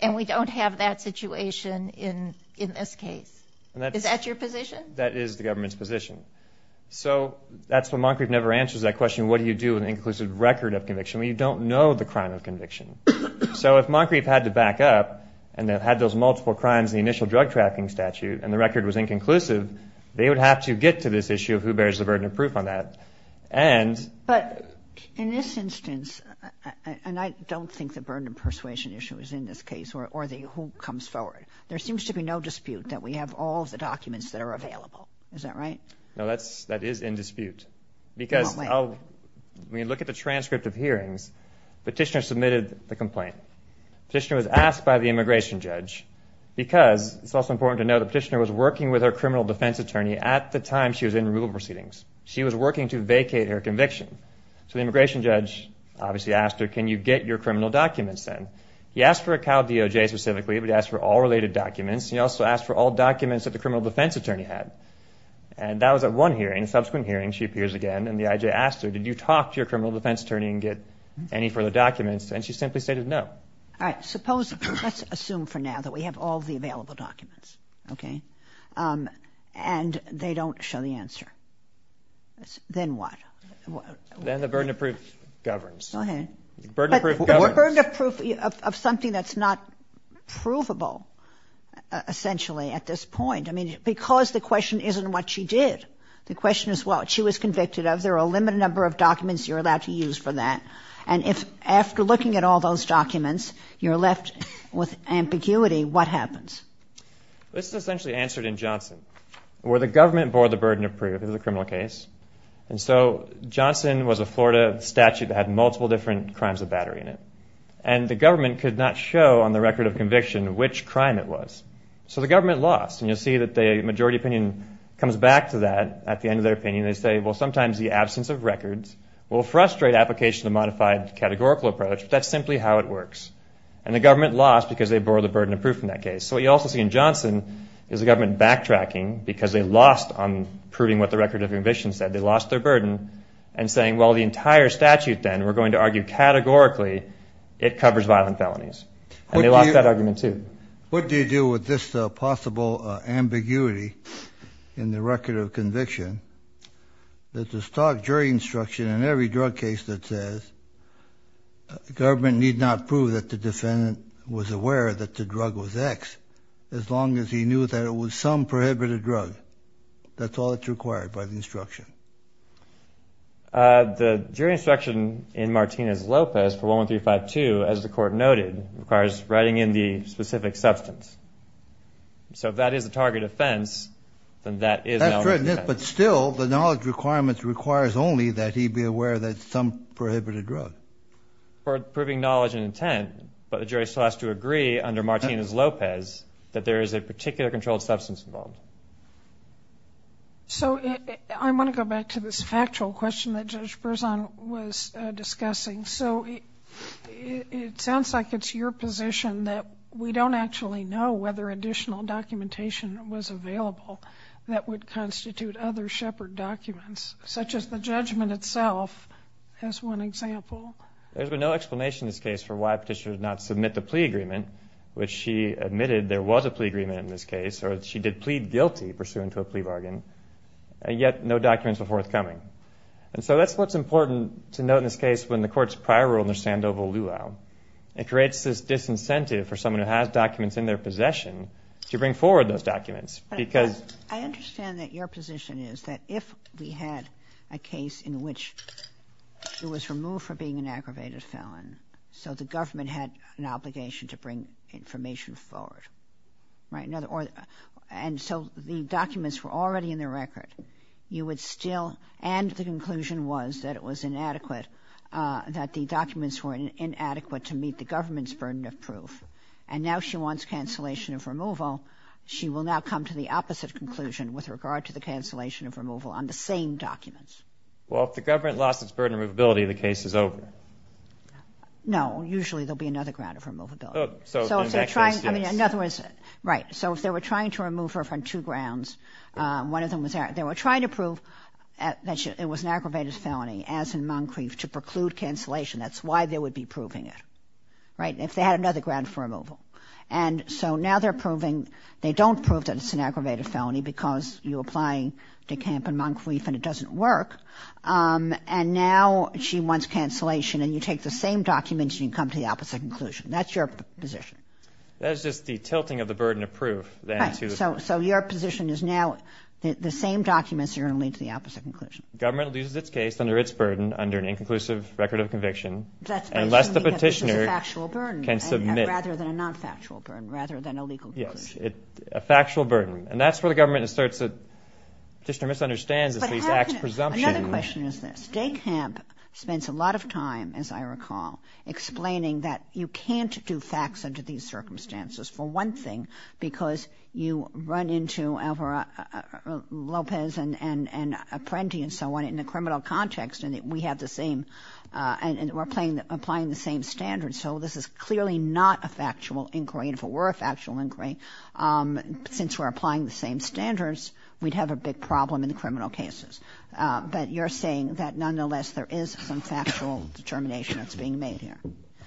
And we don't have that situation in this case. Is that your position? That is the government's position. So that's why Moncrief never answers that question, what do you do with an inconclusive record of conviction? Well, you don't know the crime of conviction. So if Moncrief had to back up and had those multiple crimes in the initial drug trafficking statute and the record was inconclusive, they would have to get to this issue of who bears the burden of proof on that. But in this instance, and I don't think the burden of persuasion issue is in this case, or who comes forward. There seems to be no dispute that we have all the documents that are available. Is that right? No, that is in dispute. We look at the transcript of hearings. Petitioner submitted the complaint. Petitioner was asked by the immigration judge because it's also important to know the petitioner was working with her criminal defense attorney at the time she was in removal proceedings. She was working to vacate her conviction. So the immigration judge obviously asked her, can you get your criminal documents then? He asked for a COW DOJ specifically, but he asked for all related documents. He also asked for all documents that the criminal defense attorney had. And that was at one hearing. Subsequent hearing, she appears again and the IJ asked her, did you talk to your criminal defense attorney and get any further documents? And she simply stated no. All right, suppose, let's assume for now that we have all the available documents. Okay. And they don't show the answer. Then what? Then the burden of proof governs. Go ahead. Burden of proof governs. Burden of proof of something that's not provable essentially at this point. I mean, because the question isn't what she did. The question is what she was convicted of. There are a limited number of documents you're allowed to use for that. And if after looking at all those documents, you're left with ambiguity, what happens? This is essentially answered in Johnson, where the government bore the burden of proof. This is a criminal case. And so Johnson was a Florida statute that had multiple different crimes of battery in it. And the government could not show on the record of conviction which crime it was. So the government lost. And you'll see that the majority opinion comes back to that at the end of their opinion. They say, well, sometimes the absence of records will frustrate application of modified categorical approach, but that's simply how it works. And the government lost because they bore the burden of proof in that case. So what you also see in Johnson is the government backtracking, because they lost on proving what the record of conviction said. They lost their burden and saying, well, the entire statute then, we're going to argue categorically, it covers violent felonies. And they lost that argument, too. What do you do with this possible ambiguity in the record of conviction? There's this talk during instruction in every drug case that says the government need not prove that the defendant was aware that the drug was X, as long as he knew that it was some prohibited drug. That's all that's required by the instruction. The jury instruction in Martinez-Lopez for 11352, as the court noted, requires writing in the specific substance. So if that is the target offense, then that is knowledge defense. But still, the knowledge requirements requires only that he be aware that some prohibited drug. For proving knowledge and intent, but the jury still has to agree under Martinez-Lopez that there is a particular controlled substance involved. So I want to go back to this factual question that Judge Berzon was discussing. So it sounds like it's your position that we don't actually know whether additional documentation was available that would constitute other shepherd documents, such as the judgment itself, as one example. There's been no explanation in this case for why Petitioner did not submit the plea agreement, which she admitted there was a plea agreement in this case, or she did plead guilty pursuant to a plea bargain, and yet no documents were forthcoming. And so that's what's important to note in this case when the court's prior rule under Sandoval-Lulau, it creates this disincentive for someone who has documents in their possession to bring forward those documents. I understand that your position is that if we had a case in which it was removed for being an aggravated felon, so the government had an obligation to bring information forward, and so the documents were already in the record, and the conclusion was that it was inadequate, that the documents were inadequate to meet the government's burden of proof, and now she wants cancellation of removal, she will now come to the opposite conclusion with regard to the cancellation of removal on the same documents. Well, if the government lost its burden of removability, the case is over. No, usually there'll be another ground of removability. Oh, so in that case, yes. I mean, in other words, right, so if they were trying to remove her from two grounds, one of them was there, they were trying to prove that it was an aggravated felony, as in Moncrief, to preclude cancellation. That's why they would be proving it, right? If they had another ground for removal. And so now they're proving, they don't prove that it's an aggravated felony, because you're applying to Camp and Moncrief, and it doesn't work, and now she wants cancellation, and you take the same documents, and you come to the opposite conclusion. That's your position. That is just the tilting of the burden of proof, then. Right, so your position is now the same documents are going to lead to the opposite conclusion. Government loses its case under its burden, under an inconclusive record of conviction, unless the petitioner can submit. Rather than a non-factual burden, rather than a legal burden. Yes, a factual burden. And that's where the government asserts that the petitioner misunderstands the state's presumption. But another question is this. Day Camp spends a lot of time, as I recall, explaining that you can't do facts under these circumstances. For one thing, because you run into Alvaro Lopez and Apprendi and so on in a criminal context, and we have the same, and we're applying the same standards, so this is clearly not a factual inquiry. If it were a factual inquiry, since we're applying the same standards, we'd have a big problem in the criminal cases. But you're saying that, nonetheless, there is some factual determination that's being made here.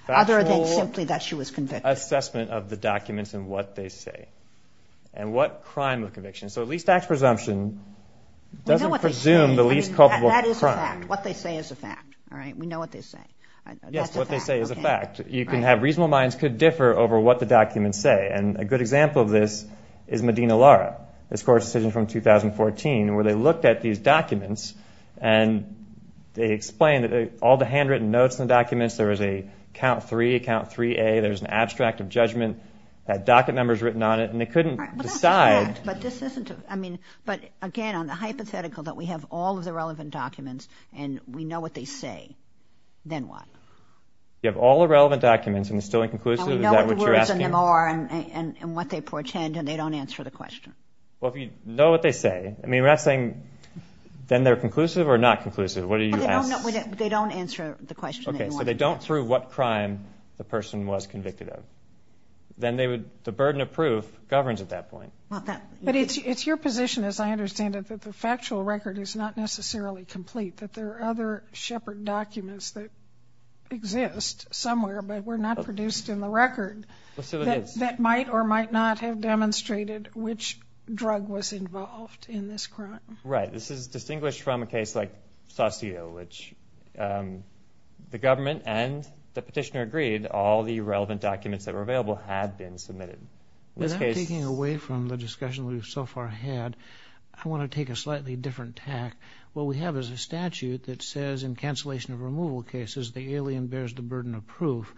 Other than simply that she was convicted. Factual assessment of the documents and what they say. And what crime of conviction. So at least acts presumption doesn't presume the least culpable crime. What they say is a fact. All right. We know what they say. Yes, what they say is a fact. You can have reasonable minds could differ over what the documents say. And a good example of this is Medina Lara. This court's decision from 2014, where they looked at these documents and they explained that all the handwritten notes in the documents, there was a count three, count 3A, there's an abstract of judgment, that docket number's written on it, and they couldn't decide. But this isn't, I mean, but again, on the hypothetical that we have all of the relevant documents and we know what they say, then what? You have all the relevant documents and it's still inconclusive? Is that what you're asking? And we know what the words in them are and what they portend and they don't answer the question. Well, if you know what they say, I mean, we're not saying, then they're conclusive or not conclusive? What are you asking? They don't answer the question. Okay. So they don't prove what crime the person was convicted of. Then they would, the burden of proof governs at that point. But it's your position, as I understand it, that the factual record is not necessarily complete, that there are other Shepard documents that exist somewhere, but were not produced in the record that might or might not have demonstrated which drug was involved in this crime. Right. This is distinguished from a case like Saucillo, which the government and the petitioner agreed all the relevant documents that were available had been submitted. Without taking away from the discussion we've so far had, I want to take a slightly different tack. What we have is a statute that says in cancellation of removal cases, the alien bears the burden of proof.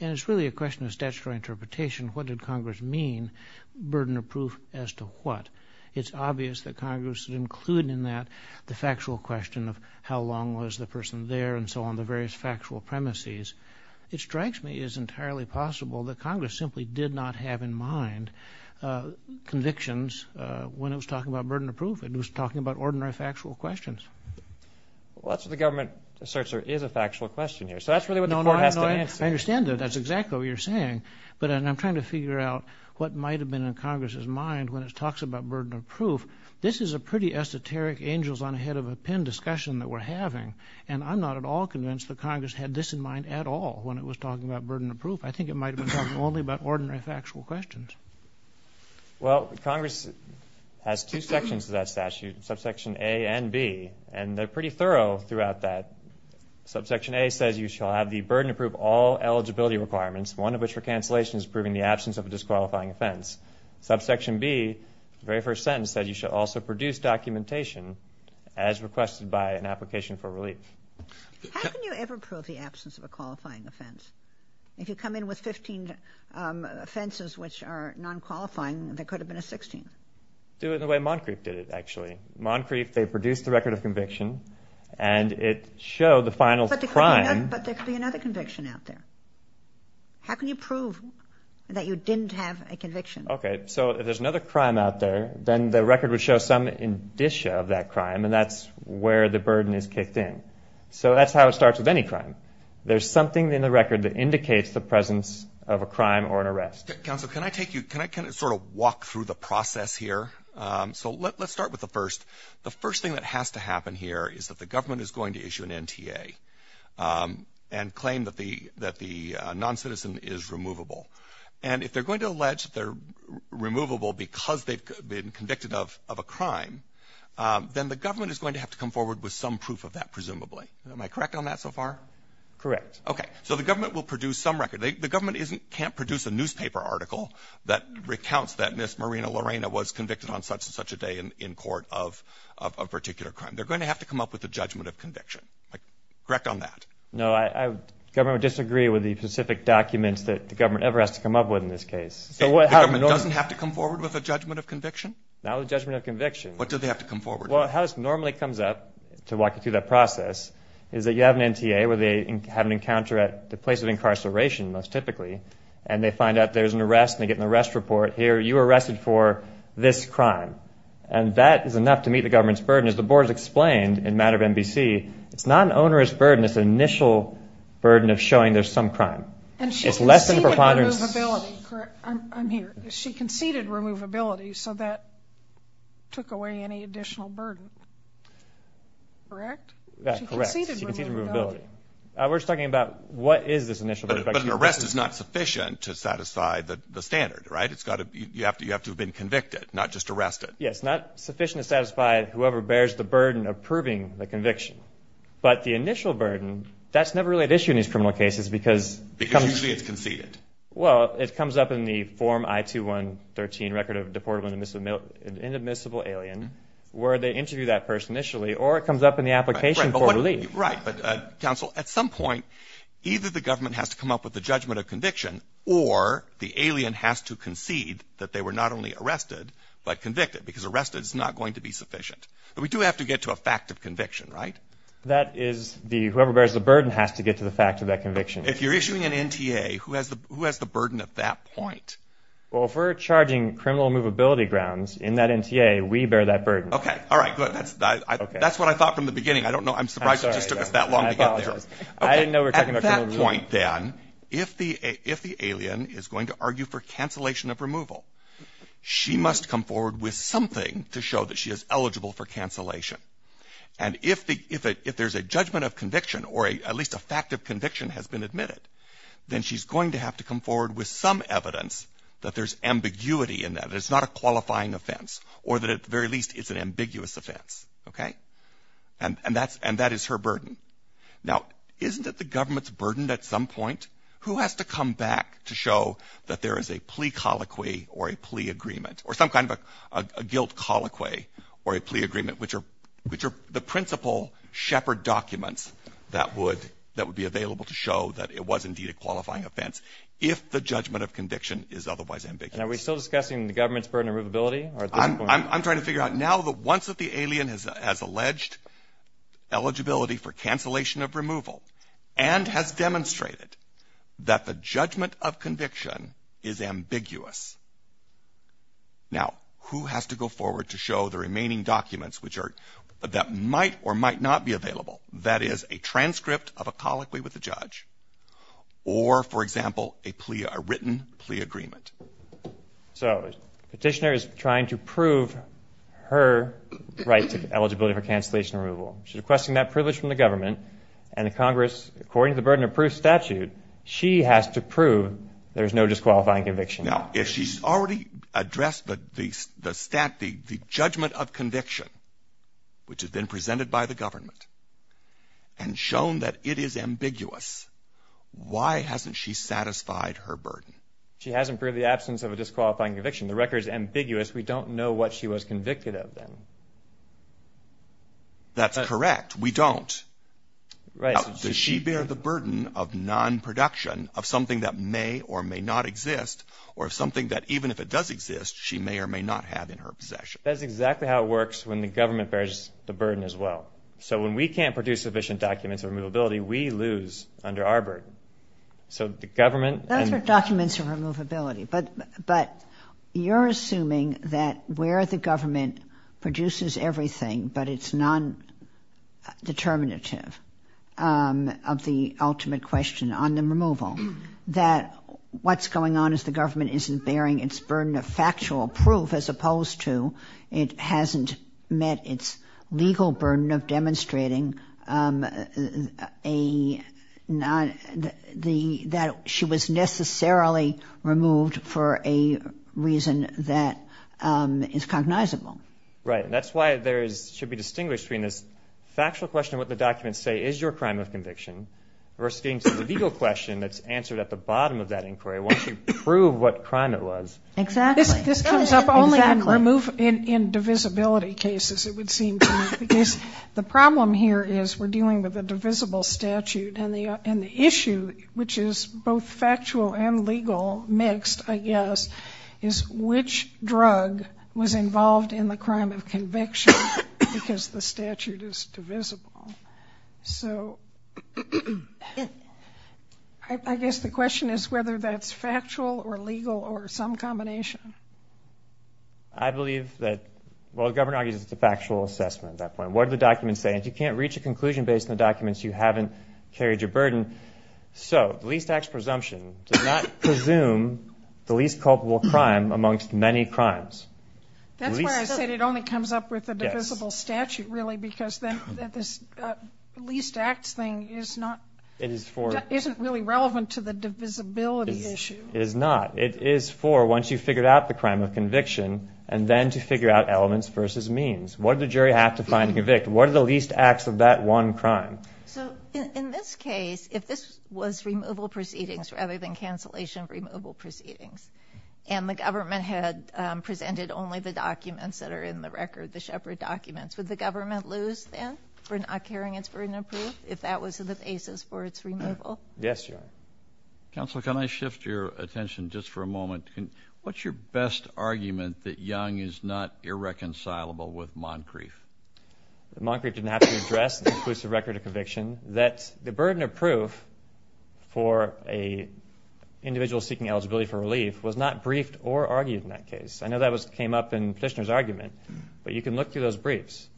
And it's really a question of statutory interpretation. What did Congress mean? Burden of proof as to what? It's obvious that Congress included in that the factual question of how long was the person there and so on, the various factual premises. It strikes me as entirely possible that Congress simply did not have in mind convictions when it was talking about burden of proof. It was talking about ordinary factual questions. Well, that's what the government asserts there is a factual question here. So that's really what the court has to answer. I understand that. That's exactly what you're saying. But I'm trying to figure out what might have been in Congress's mind when it talks about burden of proof. This is a pretty esoteric angels on ahead of a pen discussion that we're having. And I'm not at all convinced that Congress had this in mind at all when it was talking about burden of proof. I think it might have been talking only about ordinary factual questions. Well, Congress has two sections to that statute, subsection A and B, and they're pretty thorough throughout that. Subsection A says you shall have the burden of proof all eligibility requirements, one of which for cancellation is proving the absence of a disqualifying offense. Subsection B, the very first sentence says you should also produce documentation as requested by an application for relief. How can you ever prove the absence of a qualifying offense? If you come in with 15 offenses which are non-qualifying, there could have been a 16th. Do it the way Moncrief did it, actually. Moncrief, they produced the record of conviction and it showed the final crime. But there could be another conviction out there. How can you prove that you didn't have a conviction? Okay, so if there's another crime out there, then the record would show some indicia of that crime and that's where the burden is kicked in. So that's how it starts with any crime. There's something in the record that indicates the presence of a crime or an arrest. Counsel, can I take you, can I sort of walk through the process here? So let's start with the first. The first thing that has to happen here is that the government is going to issue an NTA and claim that the non-citizen is removable. And if they're going to allege that they're a crime, then the government is going to have to come forward with some proof of that, presumably. Am I correct on that so far? Correct. Okay. So the government will produce some record. The government can't produce a newspaper article that recounts that Miss Marina Lorena was convicted on such and such a day in court of a particular crime. They're going to have to come up with a judgment of conviction. Correct on that? No, the government would disagree with the specific documents that the government ever has to come up with in this case. So the government doesn't have to come forward with a judgment of conviction? Not with a judgment of conviction. But do they have to come forward? Well, how this normally comes up to walk you through that process is that you have an NTA where they have an encounter at the place of incarceration, most typically, and they find out there's an arrest and they get an arrest report. Here, you were arrested for this crime. And that is enough to meet the government's burden. As the board has explained in the matter of NBC, it's not an onerous burden. It's an initial burden of showing there's some crime. And she conceded removability, correct? I'm here. She conceded removability, so that took away any additional burden. Correct? That's correct. She conceded removability. We're just talking about what is this initial burden? But an arrest is not sufficient to satisfy the standard, right? It's got to be, you have to have been convicted, not just arrested. Yes, not sufficient to satisfy whoever bears the burden of proving the conviction. But the initial burden, that's never really an issue in these criminal cases because Because usually it's conceded. Well, it comes up in the form I-2113, Record of Deportable and Inadmissible Alien, where they interview that person initially, or it comes up in the application for relief. Right, but counsel, at some point, either the government has to come up with the judgment of conviction, or the alien has to concede that they were not only arrested, but convicted, because arrested is not going to be sufficient. But we do have to get to a fact of conviction, right? That is, whoever bears the burden has to get to the fact of that conviction. If you're issuing an NTA, who has the burden at that point? Well, if we're charging criminal movability grounds in that NTA, we bear that burden. Okay, all right, good. That's what I thought from the beginning. I don't know. I'm surprised it just took us that long to get there. I didn't know we were talking about criminal movability. At that point, then, if the alien is going to argue for cancellation of removal, she must come forward with something to show that she is eligible for cancellation. And if there's a judgment of conviction, or at least a fact of conviction has been admitted, then she's going to have to come forward with some evidence that there's ambiguity in that, that it's not a qualifying offense, or that, at the very least, it's an ambiguous offense. Okay? And that is her burden. Now, isn't it the government's burden at some point? Who has to come back to show that there is a plea colloquy, or a plea agreement, or some kind of a guilt colloquy, or a plea agreement, which are the principal shepherd documents that would be available to show that it was, indeed, a qualifying offense, if the judgment of conviction is otherwise ambiguous? And are we still discussing the government's burden of movability, or at this point? I'm trying to figure out. Now that once the alien has alleged eligibility for cancellation of removal, and has demonstrated that the judgment of conviction is ambiguous, now, who has to go forward to show the remaining documents, which are, that might or might not be available? That is, a transcript of a colloquy with the judge, or, for example, a written plea agreement. So, petitioner is trying to prove her right to eligibility for cancellation of removal. She's requesting that privilege from the government, and the Congress, according to the burden of proof statute, she has to prove there's no disqualifying conviction. Now, if she's already addressed the stat, the judgment of conviction, which has been presented by the government, and shown that it is ambiguous, why hasn't she satisfied her burden? She hasn't proved the absence of a disqualifying conviction. The record is ambiguous. We don't know what she was convicted of, then. That's correct. We don't. Right. Does she bear the burden of non-production, of something that may or may not exist, of something that, even if it does exist, she may or may not have in her possession? That's exactly how it works when the government bears the burden, as well. So, when we can't produce sufficient documents of removability, we lose under our burden. So, the government— Those are documents of removability, but you're assuming that where the government produces everything, but it's non-determinative of the ultimate question on the removal, that what's going on is the government isn't bearing its burden of factual proof, as opposed to it hasn't met its legal burden of demonstrating that she was necessarily removed for a reason that is cognizable. Right. And that's why there is—should be distinguished between this factual question of what the documents say, is your crime of conviction, versus getting to the legal question that's answered at the bottom of that inquiry, once you prove what crime it was. Exactly. This comes up only in divisibility cases, it would seem to me. Because the problem here is we're dealing with a divisible statute, and the issue, which is both factual and legal mixed, I guess, is which drug was involved in the crime of conviction because the statute is divisible. So I guess the question is whether that's factual or legal or some combination. I believe that—well, the government argues it's a factual assessment at that point. What do the documents say? And if you can't reach a conclusion based on the documents, you haven't carried your burden. So the least acts presumption does not presume the least culpable crime amongst many crimes. That's why I said it only comes up with a divisible statute, really, because then this least acts thing isn't really relevant to the divisibility issue. It is not. It is for once you've figured out the crime of conviction, and then to figure out elements versus means. What did the jury have to find and convict? What are the least acts of that one crime? So in this case, if this was removal proceedings rather than cancellation removal proceedings, and the government had presented only the documents that are in the record, the Shepard documents, would the government lose, then, for not carrying its burden of proof if that was the basis for its removal? Yes, Your Honor. Counsel, can I shift your attention just for a moment? What's your best argument that Young is not irreconcilable with Moncrief? Moncrief didn't have to address the record of conviction. That the burden of proof for an individual seeking eligibility for relief was not briefed or argued in that case. I know that came up in Petitioner's argument. But you can look through those briefs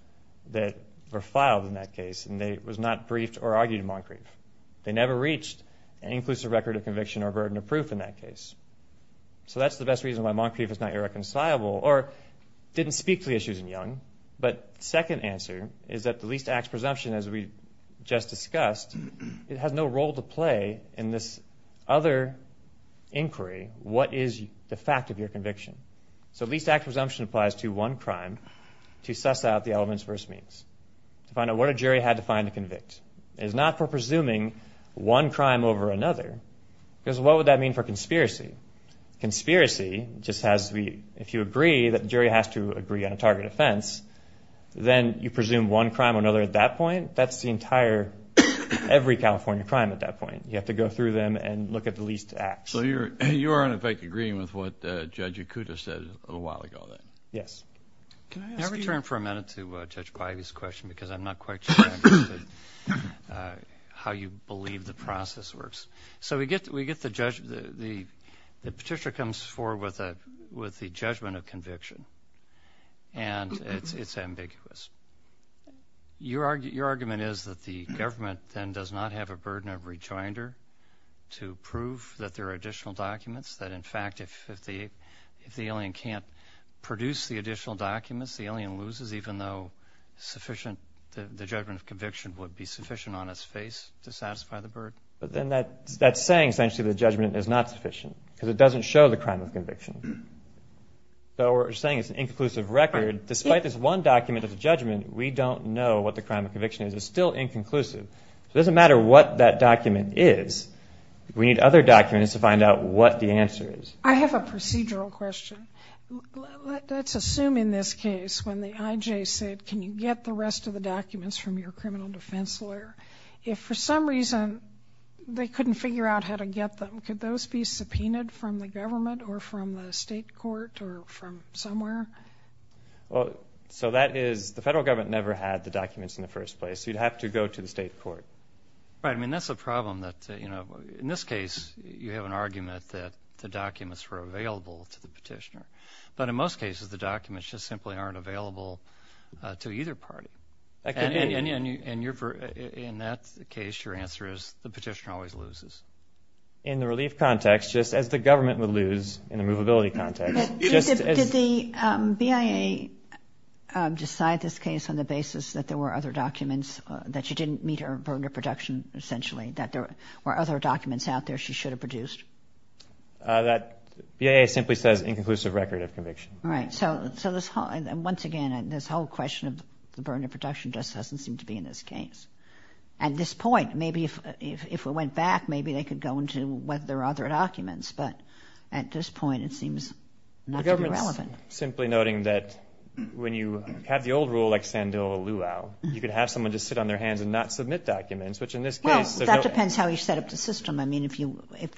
that were filed in that case, and it was not briefed or argued in Moncrief. They never reached an inclusive record of conviction or burden of proof in that case. So that's the best reason why Moncrief is not irreconcilable, or didn't speak to the issues in Young. But second answer is that the least acts presumption, as we just discussed, it has no role to play in this other inquiry. What is the fact of your conviction? So least acts presumption applies to one crime to suss out the elements versus means. To find out what a jury had to find to convict. It's not for presuming one crime over another. Because what would that mean for conspiracy? Conspiracy just has to be, if you agree that the jury has to agree on a target offense, then you presume one crime or another at that point. That's the entire, every California crime at that point. You have to go through them and look at the least acts. You are, in effect, agreeing with what Judge Ikuta said a little while ago then. Yes. Can I return for a minute to Judge Bybee's question? Because I'm not quite sure how you believe the process works. So we get the judge, the petitioner comes forward with the judgment of conviction. And it's ambiguous. Your argument is that the government then does not have a burden of rejoinder to prove that there are additional documents. That in fact, if the alien can't produce the additional documents, the alien loses even though sufficient, the judgment of conviction would be sufficient on its face to satisfy the burden. But then that's saying essentially the judgment is not sufficient. Because it doesn't show the crime of conviction. So we're saying it's an inconclusive record. Despite this one document of the judgment, we don't know what the crime of conviction is. It's still inconclusive. It doesn't matter what that document is. We need other documents to find out what the answer is. I have a procedural question. Let's assume in this case when the IJ said, can you get the rest of the documents from your criminal defense lawyer? If for some reason they couldn't figure out how to get them, could those be subpoenaed from the government or from the state court or from somewhere? Well, so that is, the federal government never had the documents in the first place. You'd have to go to the state court. Right. I mean, that's a problem that, you know, in this case, you have an argument that the documents were available to the petitioner. But in most cases, the documents just simply aren't available to either party. And in that case, your answer is the petitioner always loses. In the relief context, just as the government would lose in the movability context. Did the BIA decide this case on the basis that there were other documents, that she didn't meet her burden of production, essentially, that there were other documents out there she should have produced? That BIA simply says inconclusive record of conviction. Right. So once again, this whole question of the burden of production just doesn't seem to be in this case. At this point, maybe if we went back, maybe they could go into whether there are other documents. But at this point, it seems not to be relevant. The government's simply noting that when you have the old rule, like Sandil or Luau, you could have someone just sit on their hands and not submit documents, which in this case... Well, that depends how you set up the system. I mean,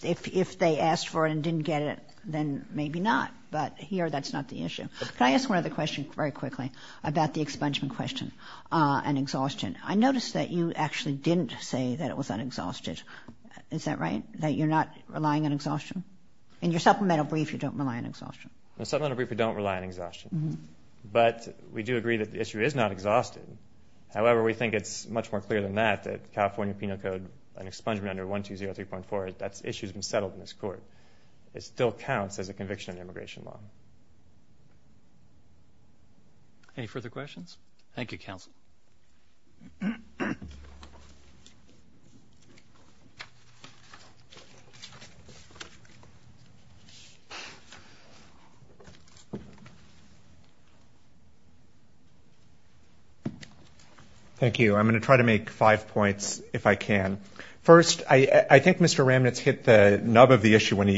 if they asked for it and didn't get it, then maybe not. But here, that's not the issue. Can I ask one other question very quickly about the expungement question and exhaustion? I noticed that you actually didn't say that it was unexhausted. Is that right? That you're not relying on exhaustion? In your supplemental brief, you don't rely on exhaustion. The supplemental brief, we don't rely on exhaustion. But we do agree that the issue is not exhausted. However, we think it's much more clear than that, that California Penal Code, an expungement under 1203.4, that issue's been settled in this court. It still counts as a conviction in immigration law. Any further questions? Thank you, counsel. Thank you. I'm going to try to make five points, if I can. First, I think Mr. Ramnitz hit the nub of the issue when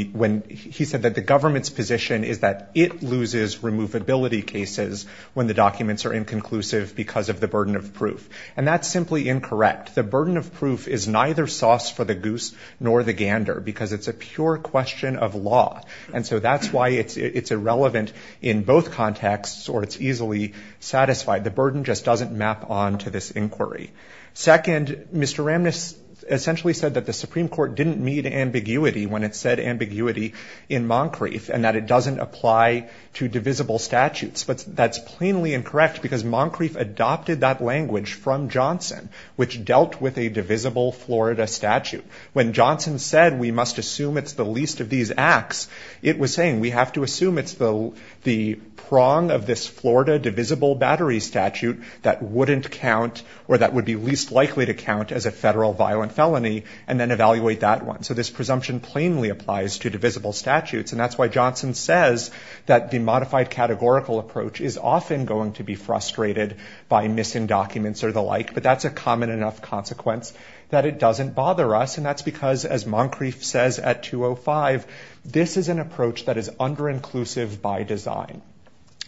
he said that the government's position is that it loses removability cases when the documents are inconclusive because of the burden of proof. And that's simply incorrect. The burden of proof is neither sauce for the goose nor the gander because it's a pure question of law. And so that's why it's irrelevant in both contexts or it's easily satisfied. The burden just doesn't map on to this inquiry. Second, Mr. Ramnitz essentially said that the Supreme Court didn't meet ambiguity when it said ambiguity in Moncrief and that it doesn't apply to divisible statutes. But that's plainly incorrect because Moncrief adopted that language from Johnson, which dealt with a divisible Florida statute. When Johnson said we must assume it's the least of these acts, it was saying we have to assume it's the prong of this Florida divisible battery statute that wouldn't count or that would be least likely to count as a federal violent felony and then evaluate that one. So this presumption plainly applies to divisible statutes. And that's why Johnson says that the modified categorical approach is often going to be frustrated by missing documents or the like. But that's a common enough consequence that it doesn't bother us. And that's because, as Moncrief says at 205, this is an approach that is under-inclusive by design.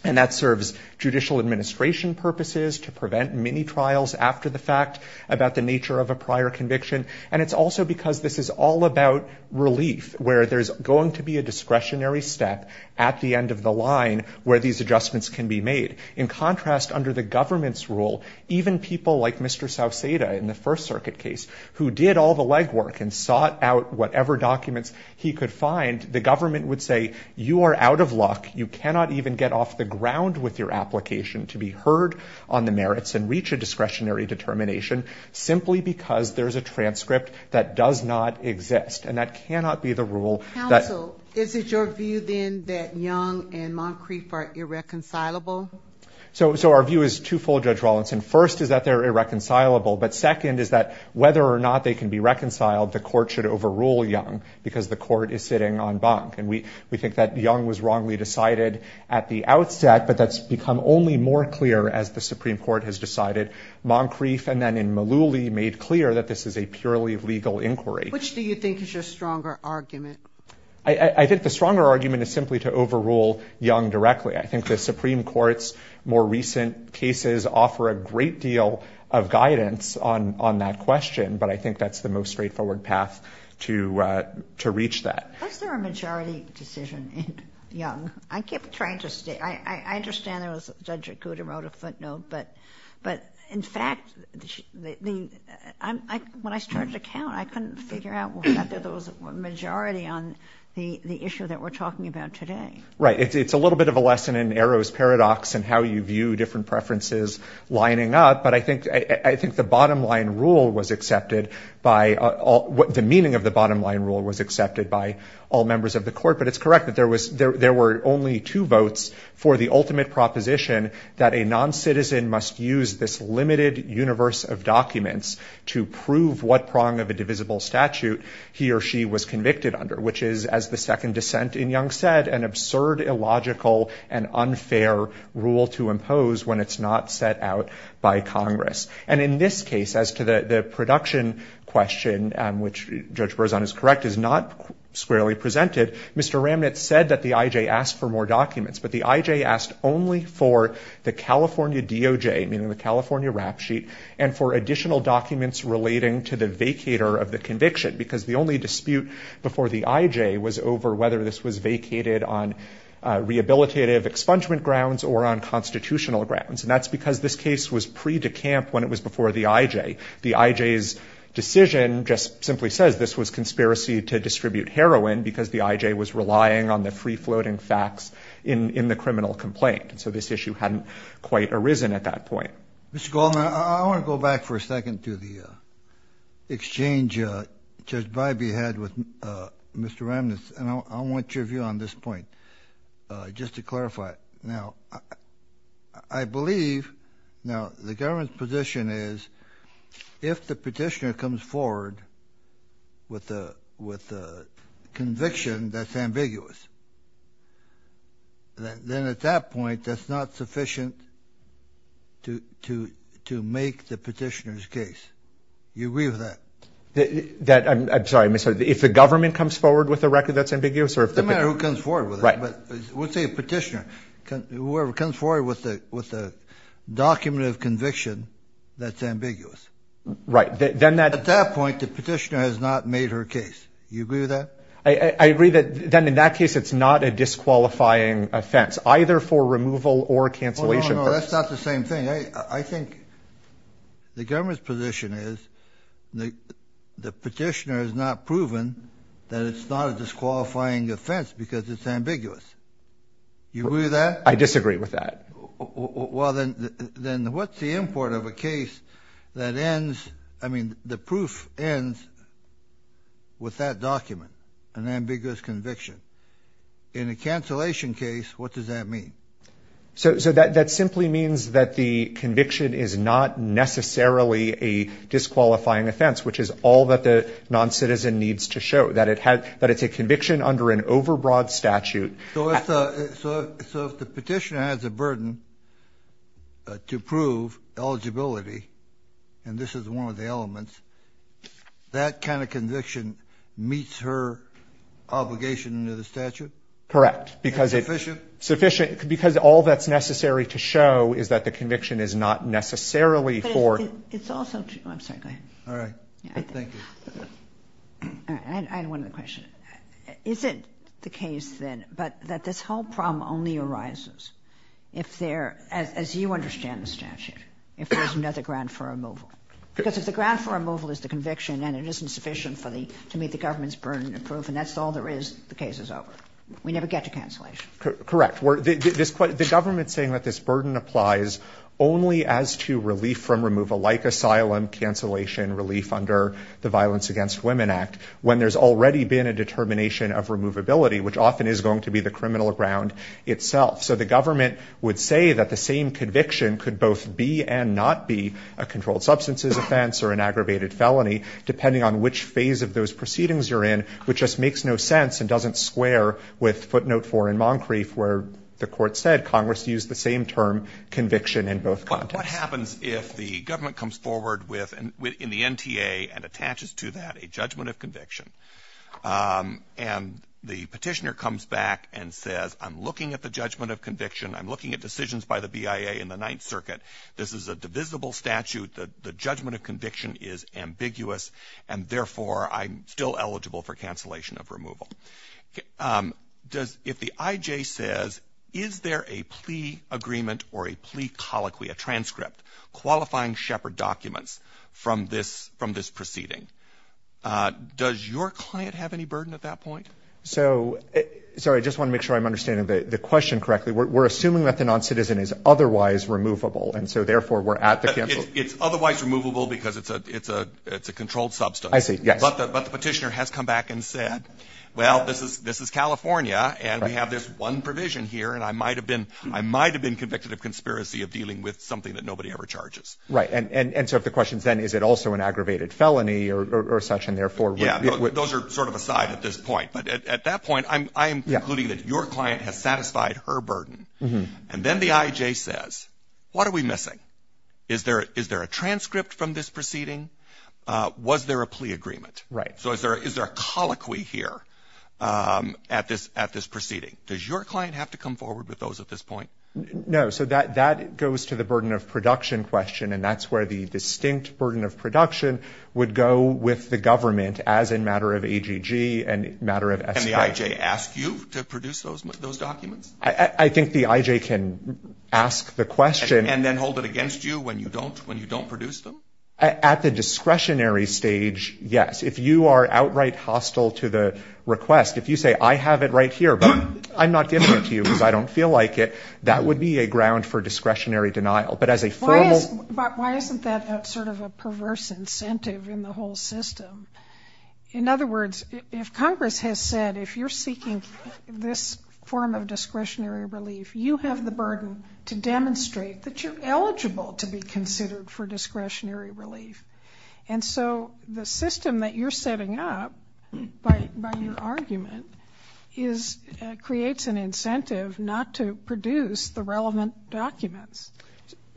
And that serves judicial administration purposes to prevent mini-trials after the fact about the nature of a prior conviction. And it's also because this is all about relief, where there's going to be a discretionary step at the end of the line where these adjustments can be made. In contrast, under the government's rule, even people like Mr. Sauceda in the First Circuit case, who did all the legwork and sought out whatever documents he could find, the government would say, you are out of luck. You cannot even get off the ground with your application to be heard on the merits and reach a discretionary determination, simply because there's a transcript that does not exist. And that cannot be the rule. Counsel, is it your view then that Young and Moncrief are irreconcilable? So our view is twofold, Judge Rawlinson. First is that they're irreconcilable. But second is that whether or not they can be reconciled, the court should overrule Young, because the court is sitting on bunk. And we think that Young was wrongly decided at the outset, but that's become only more clear as the Supreme Court has decided. Moncrief and then in Mullooly made clear that this is a purely legal inquiry. Which do you think is your stronger argument? I think the stronger argument is simply to overrule Young directly. I think the Supreme Court's more recent cases offer a great deal of guidance on that question. But I think that's the most straightforward path to reach that. Was there a majority decision in Young? I keep trying to stay. I understand there was a judge who wrote a footnote. But in fact, when I started to count, I couldn't figure out whether there was a majority on the issue that we're talking about today. Right. It's a little bit of a lesson in Arrow's Paradox and how you view different preferences lining up. But I think the meaning of the bottom line rule was accepted by all members of the court. But it's correct that there were only two votes for the ultimate proposition that a non-citizen must use this limited universe of documents to prove what prong of a divisible statute he or she was convicted under. Which is, as the second dissent in Young said, an absurd, illogical, and unfair rule to impose when it's not set out by Congress. And in this case, as to the production question, which Judge Berzon is correct, is not squarely presented, Mr. Ramnitz said that the IJ asked for more documents. But the IJ asked only for the California DOJ, meaning the California rap sheet, and for additional documents relating to the vacator of the conviction. Because the only dispute before the IJ was over whether this was vacated on rehabilitative expungement grounds or on constitutional grounds. And that's because this case was pre-decamp when it was before the IJ. The IJ's decision just simply says this was conspiracy to distribute heroin because the IJ was relying on the free-floating facts in the criminal complaint. And so this issue hadn't quite arisen at that point. Mr. Goldman, I want to go back for a second to the exchange Judge Bybee had with Mr. Ramnitz. And I want your view on this point, just to clarify. Now, I believe, now, the government's position is if the petitioner comes forward with a conviction that's ambiguous, then at that point, that's not sufficient to make the petitioner's case. You agree with that? That, I'm sorry, I'm sorry. If the government comes forward with a record that's ambiguous? It doesn't matter who comes forward with it. But let's say a petitioner, whoever comes forward with a document of conviction that's ambiguous. Right, then that... At that point, the petitioner has not made her case. You agree with that? I agree that then in that case, it's not a disqualifying offense, either for removal or cancellation. No, that's not the same thing. I think the government's position is the petitioner has not proven that it's not a disqualifying offense because it's ambiguous. You agree with that? I disagree with that. Well, then what's the import of a case that ends, I mean, the proof ends with that document, an ambiguous conviction. In a cancellation case, what does that mean? So that simply means that the conviction is not necessarily a disqualifying offense, which is all that the non-citizen needs to show, that it's a conviction under an overbroad statute. So if the petitioner has a burden to prove eligibility, and this is one of the elements, that kind of conviction meets her obligation under the statute? Correct. And sufficient? Sufficient, because all that's necessary to show is that the conviction is not necessarily for- But it's also true, I'm sorry, go ahead. All right. Thank you. All right, I had one other question. Is it the case then that this whole problem only arises if there, as you understand the statute, if there's another grant for removal? Because if the grant for removal is the conviction, and it isn't sufficient for the, to meet the government's burden of proof, and that's all there is, the case is over. We never get to cancellation. Correct. The government's saying that this burden applies only as to relief from removal, like asylum cancellation relief under the Violence Against Women Act, when there's already been a determination of removability, which often is going to be the criminal ground itself. So the government would say that the same conviction could both be and not be a controlled substances offense or an aggravated felony, depending on which phase of those proceedings you're in, which just makes no sense and doesn't square with footnote four in Moncrief, where the court said Congress used the same term, conviction in both contexts. What happens if the government comes forward with, in the NTA and attaches to that a judgment of conviction, and the petitioner comes back and says, I'm looking at the judgment of conviction, I'm looking at decisions by the BIA in the Ninth Circuit, this is a divisible statute, the judgment of conviction is ambiguous, and therefore I'm still eligible for cancellation of removal. If the IJ says, is there a plea agreement or a plea colloquy, a transcript, qualifying Shepherd documents from this proceeding, does your client have any burden at that point? So, sorry, I just want to make sure I'm understanding the question correctly. We're assuming that the non-citizen is otherwise removable, and so therefore we're at the cancel- It's otherwise removable because it's a controlled substance. I see, yes. But the petitioner has come back and said, well, this is California, and we have this one provision here, and I might have been convicted of conspiracy of dealing with something that nobody ever charges. Right, and so if the question's then, is it also an aggravated felony or such, and therefore- Yeah, those are sort of aside at this point, but at that point, I am concluding that your client has satisfied her burden, and then the IJ says, what are we missing? Is there a transcript from this proceeding? Was there a plea agreement? Right. So is there a colloquy here at this proceeding? Does your client have to come forward with those at this point? No, so that goes to the burden of production question, and that's where the distinct burden of production would go with the government as a matter of AGG and matter of- Can the IJ ask you to produce those documents? I think the IJ can ask the question- And then hold it against you when you don't produce them? At the discretionary stage, yes. If you are outright hostile to the request, if you say, I have it right here, but I'm not giving it to you because I don't feel like it, that would be a ground for discretionary denial. But as a formal- But why isn't that sort of a perverse incentive in the whole system? In other words, if Congress has said, if you're seeking this form of discretionary relief, you have the burden to demonstrate that you're eligible to be considered for discretionary relief. And so the system that you're setting up by your argument creates an incentive not to produce the relevant documents.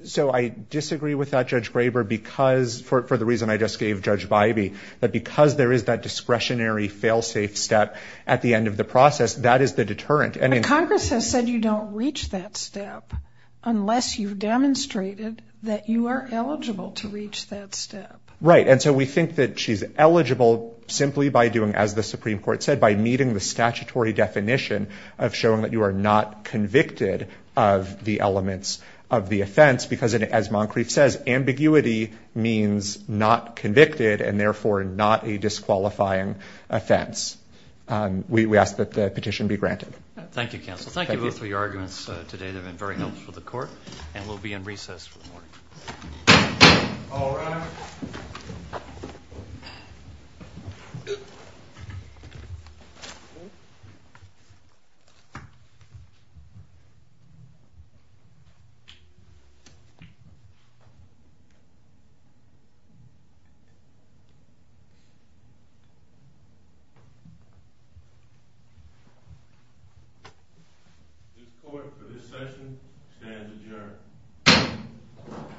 So I disagree with that, Judge Graber, because for the reason I just gave Judge Bybee, that because there is that discretionary fail-safe step at the end of the process, that is the deterrent. But Congress has said you don't reach that step unless you've demonstrated that you are eligible to reach that step. Right, and so we think that she's eligible simply by doing, as the Supreme Court said, by meeting the statutory definition of showing that you are not convicted of the elements of the offense. Because as Moncrief says, ambiguity means not convicted, and therefore not a disqualifying offense. We ask that the petition be granted. Thank you, counsel. Thank you both for your arguments today. They've been very helpful to the court. And we'll be in recess for the morning. All rise. The court for this session stands adjourned.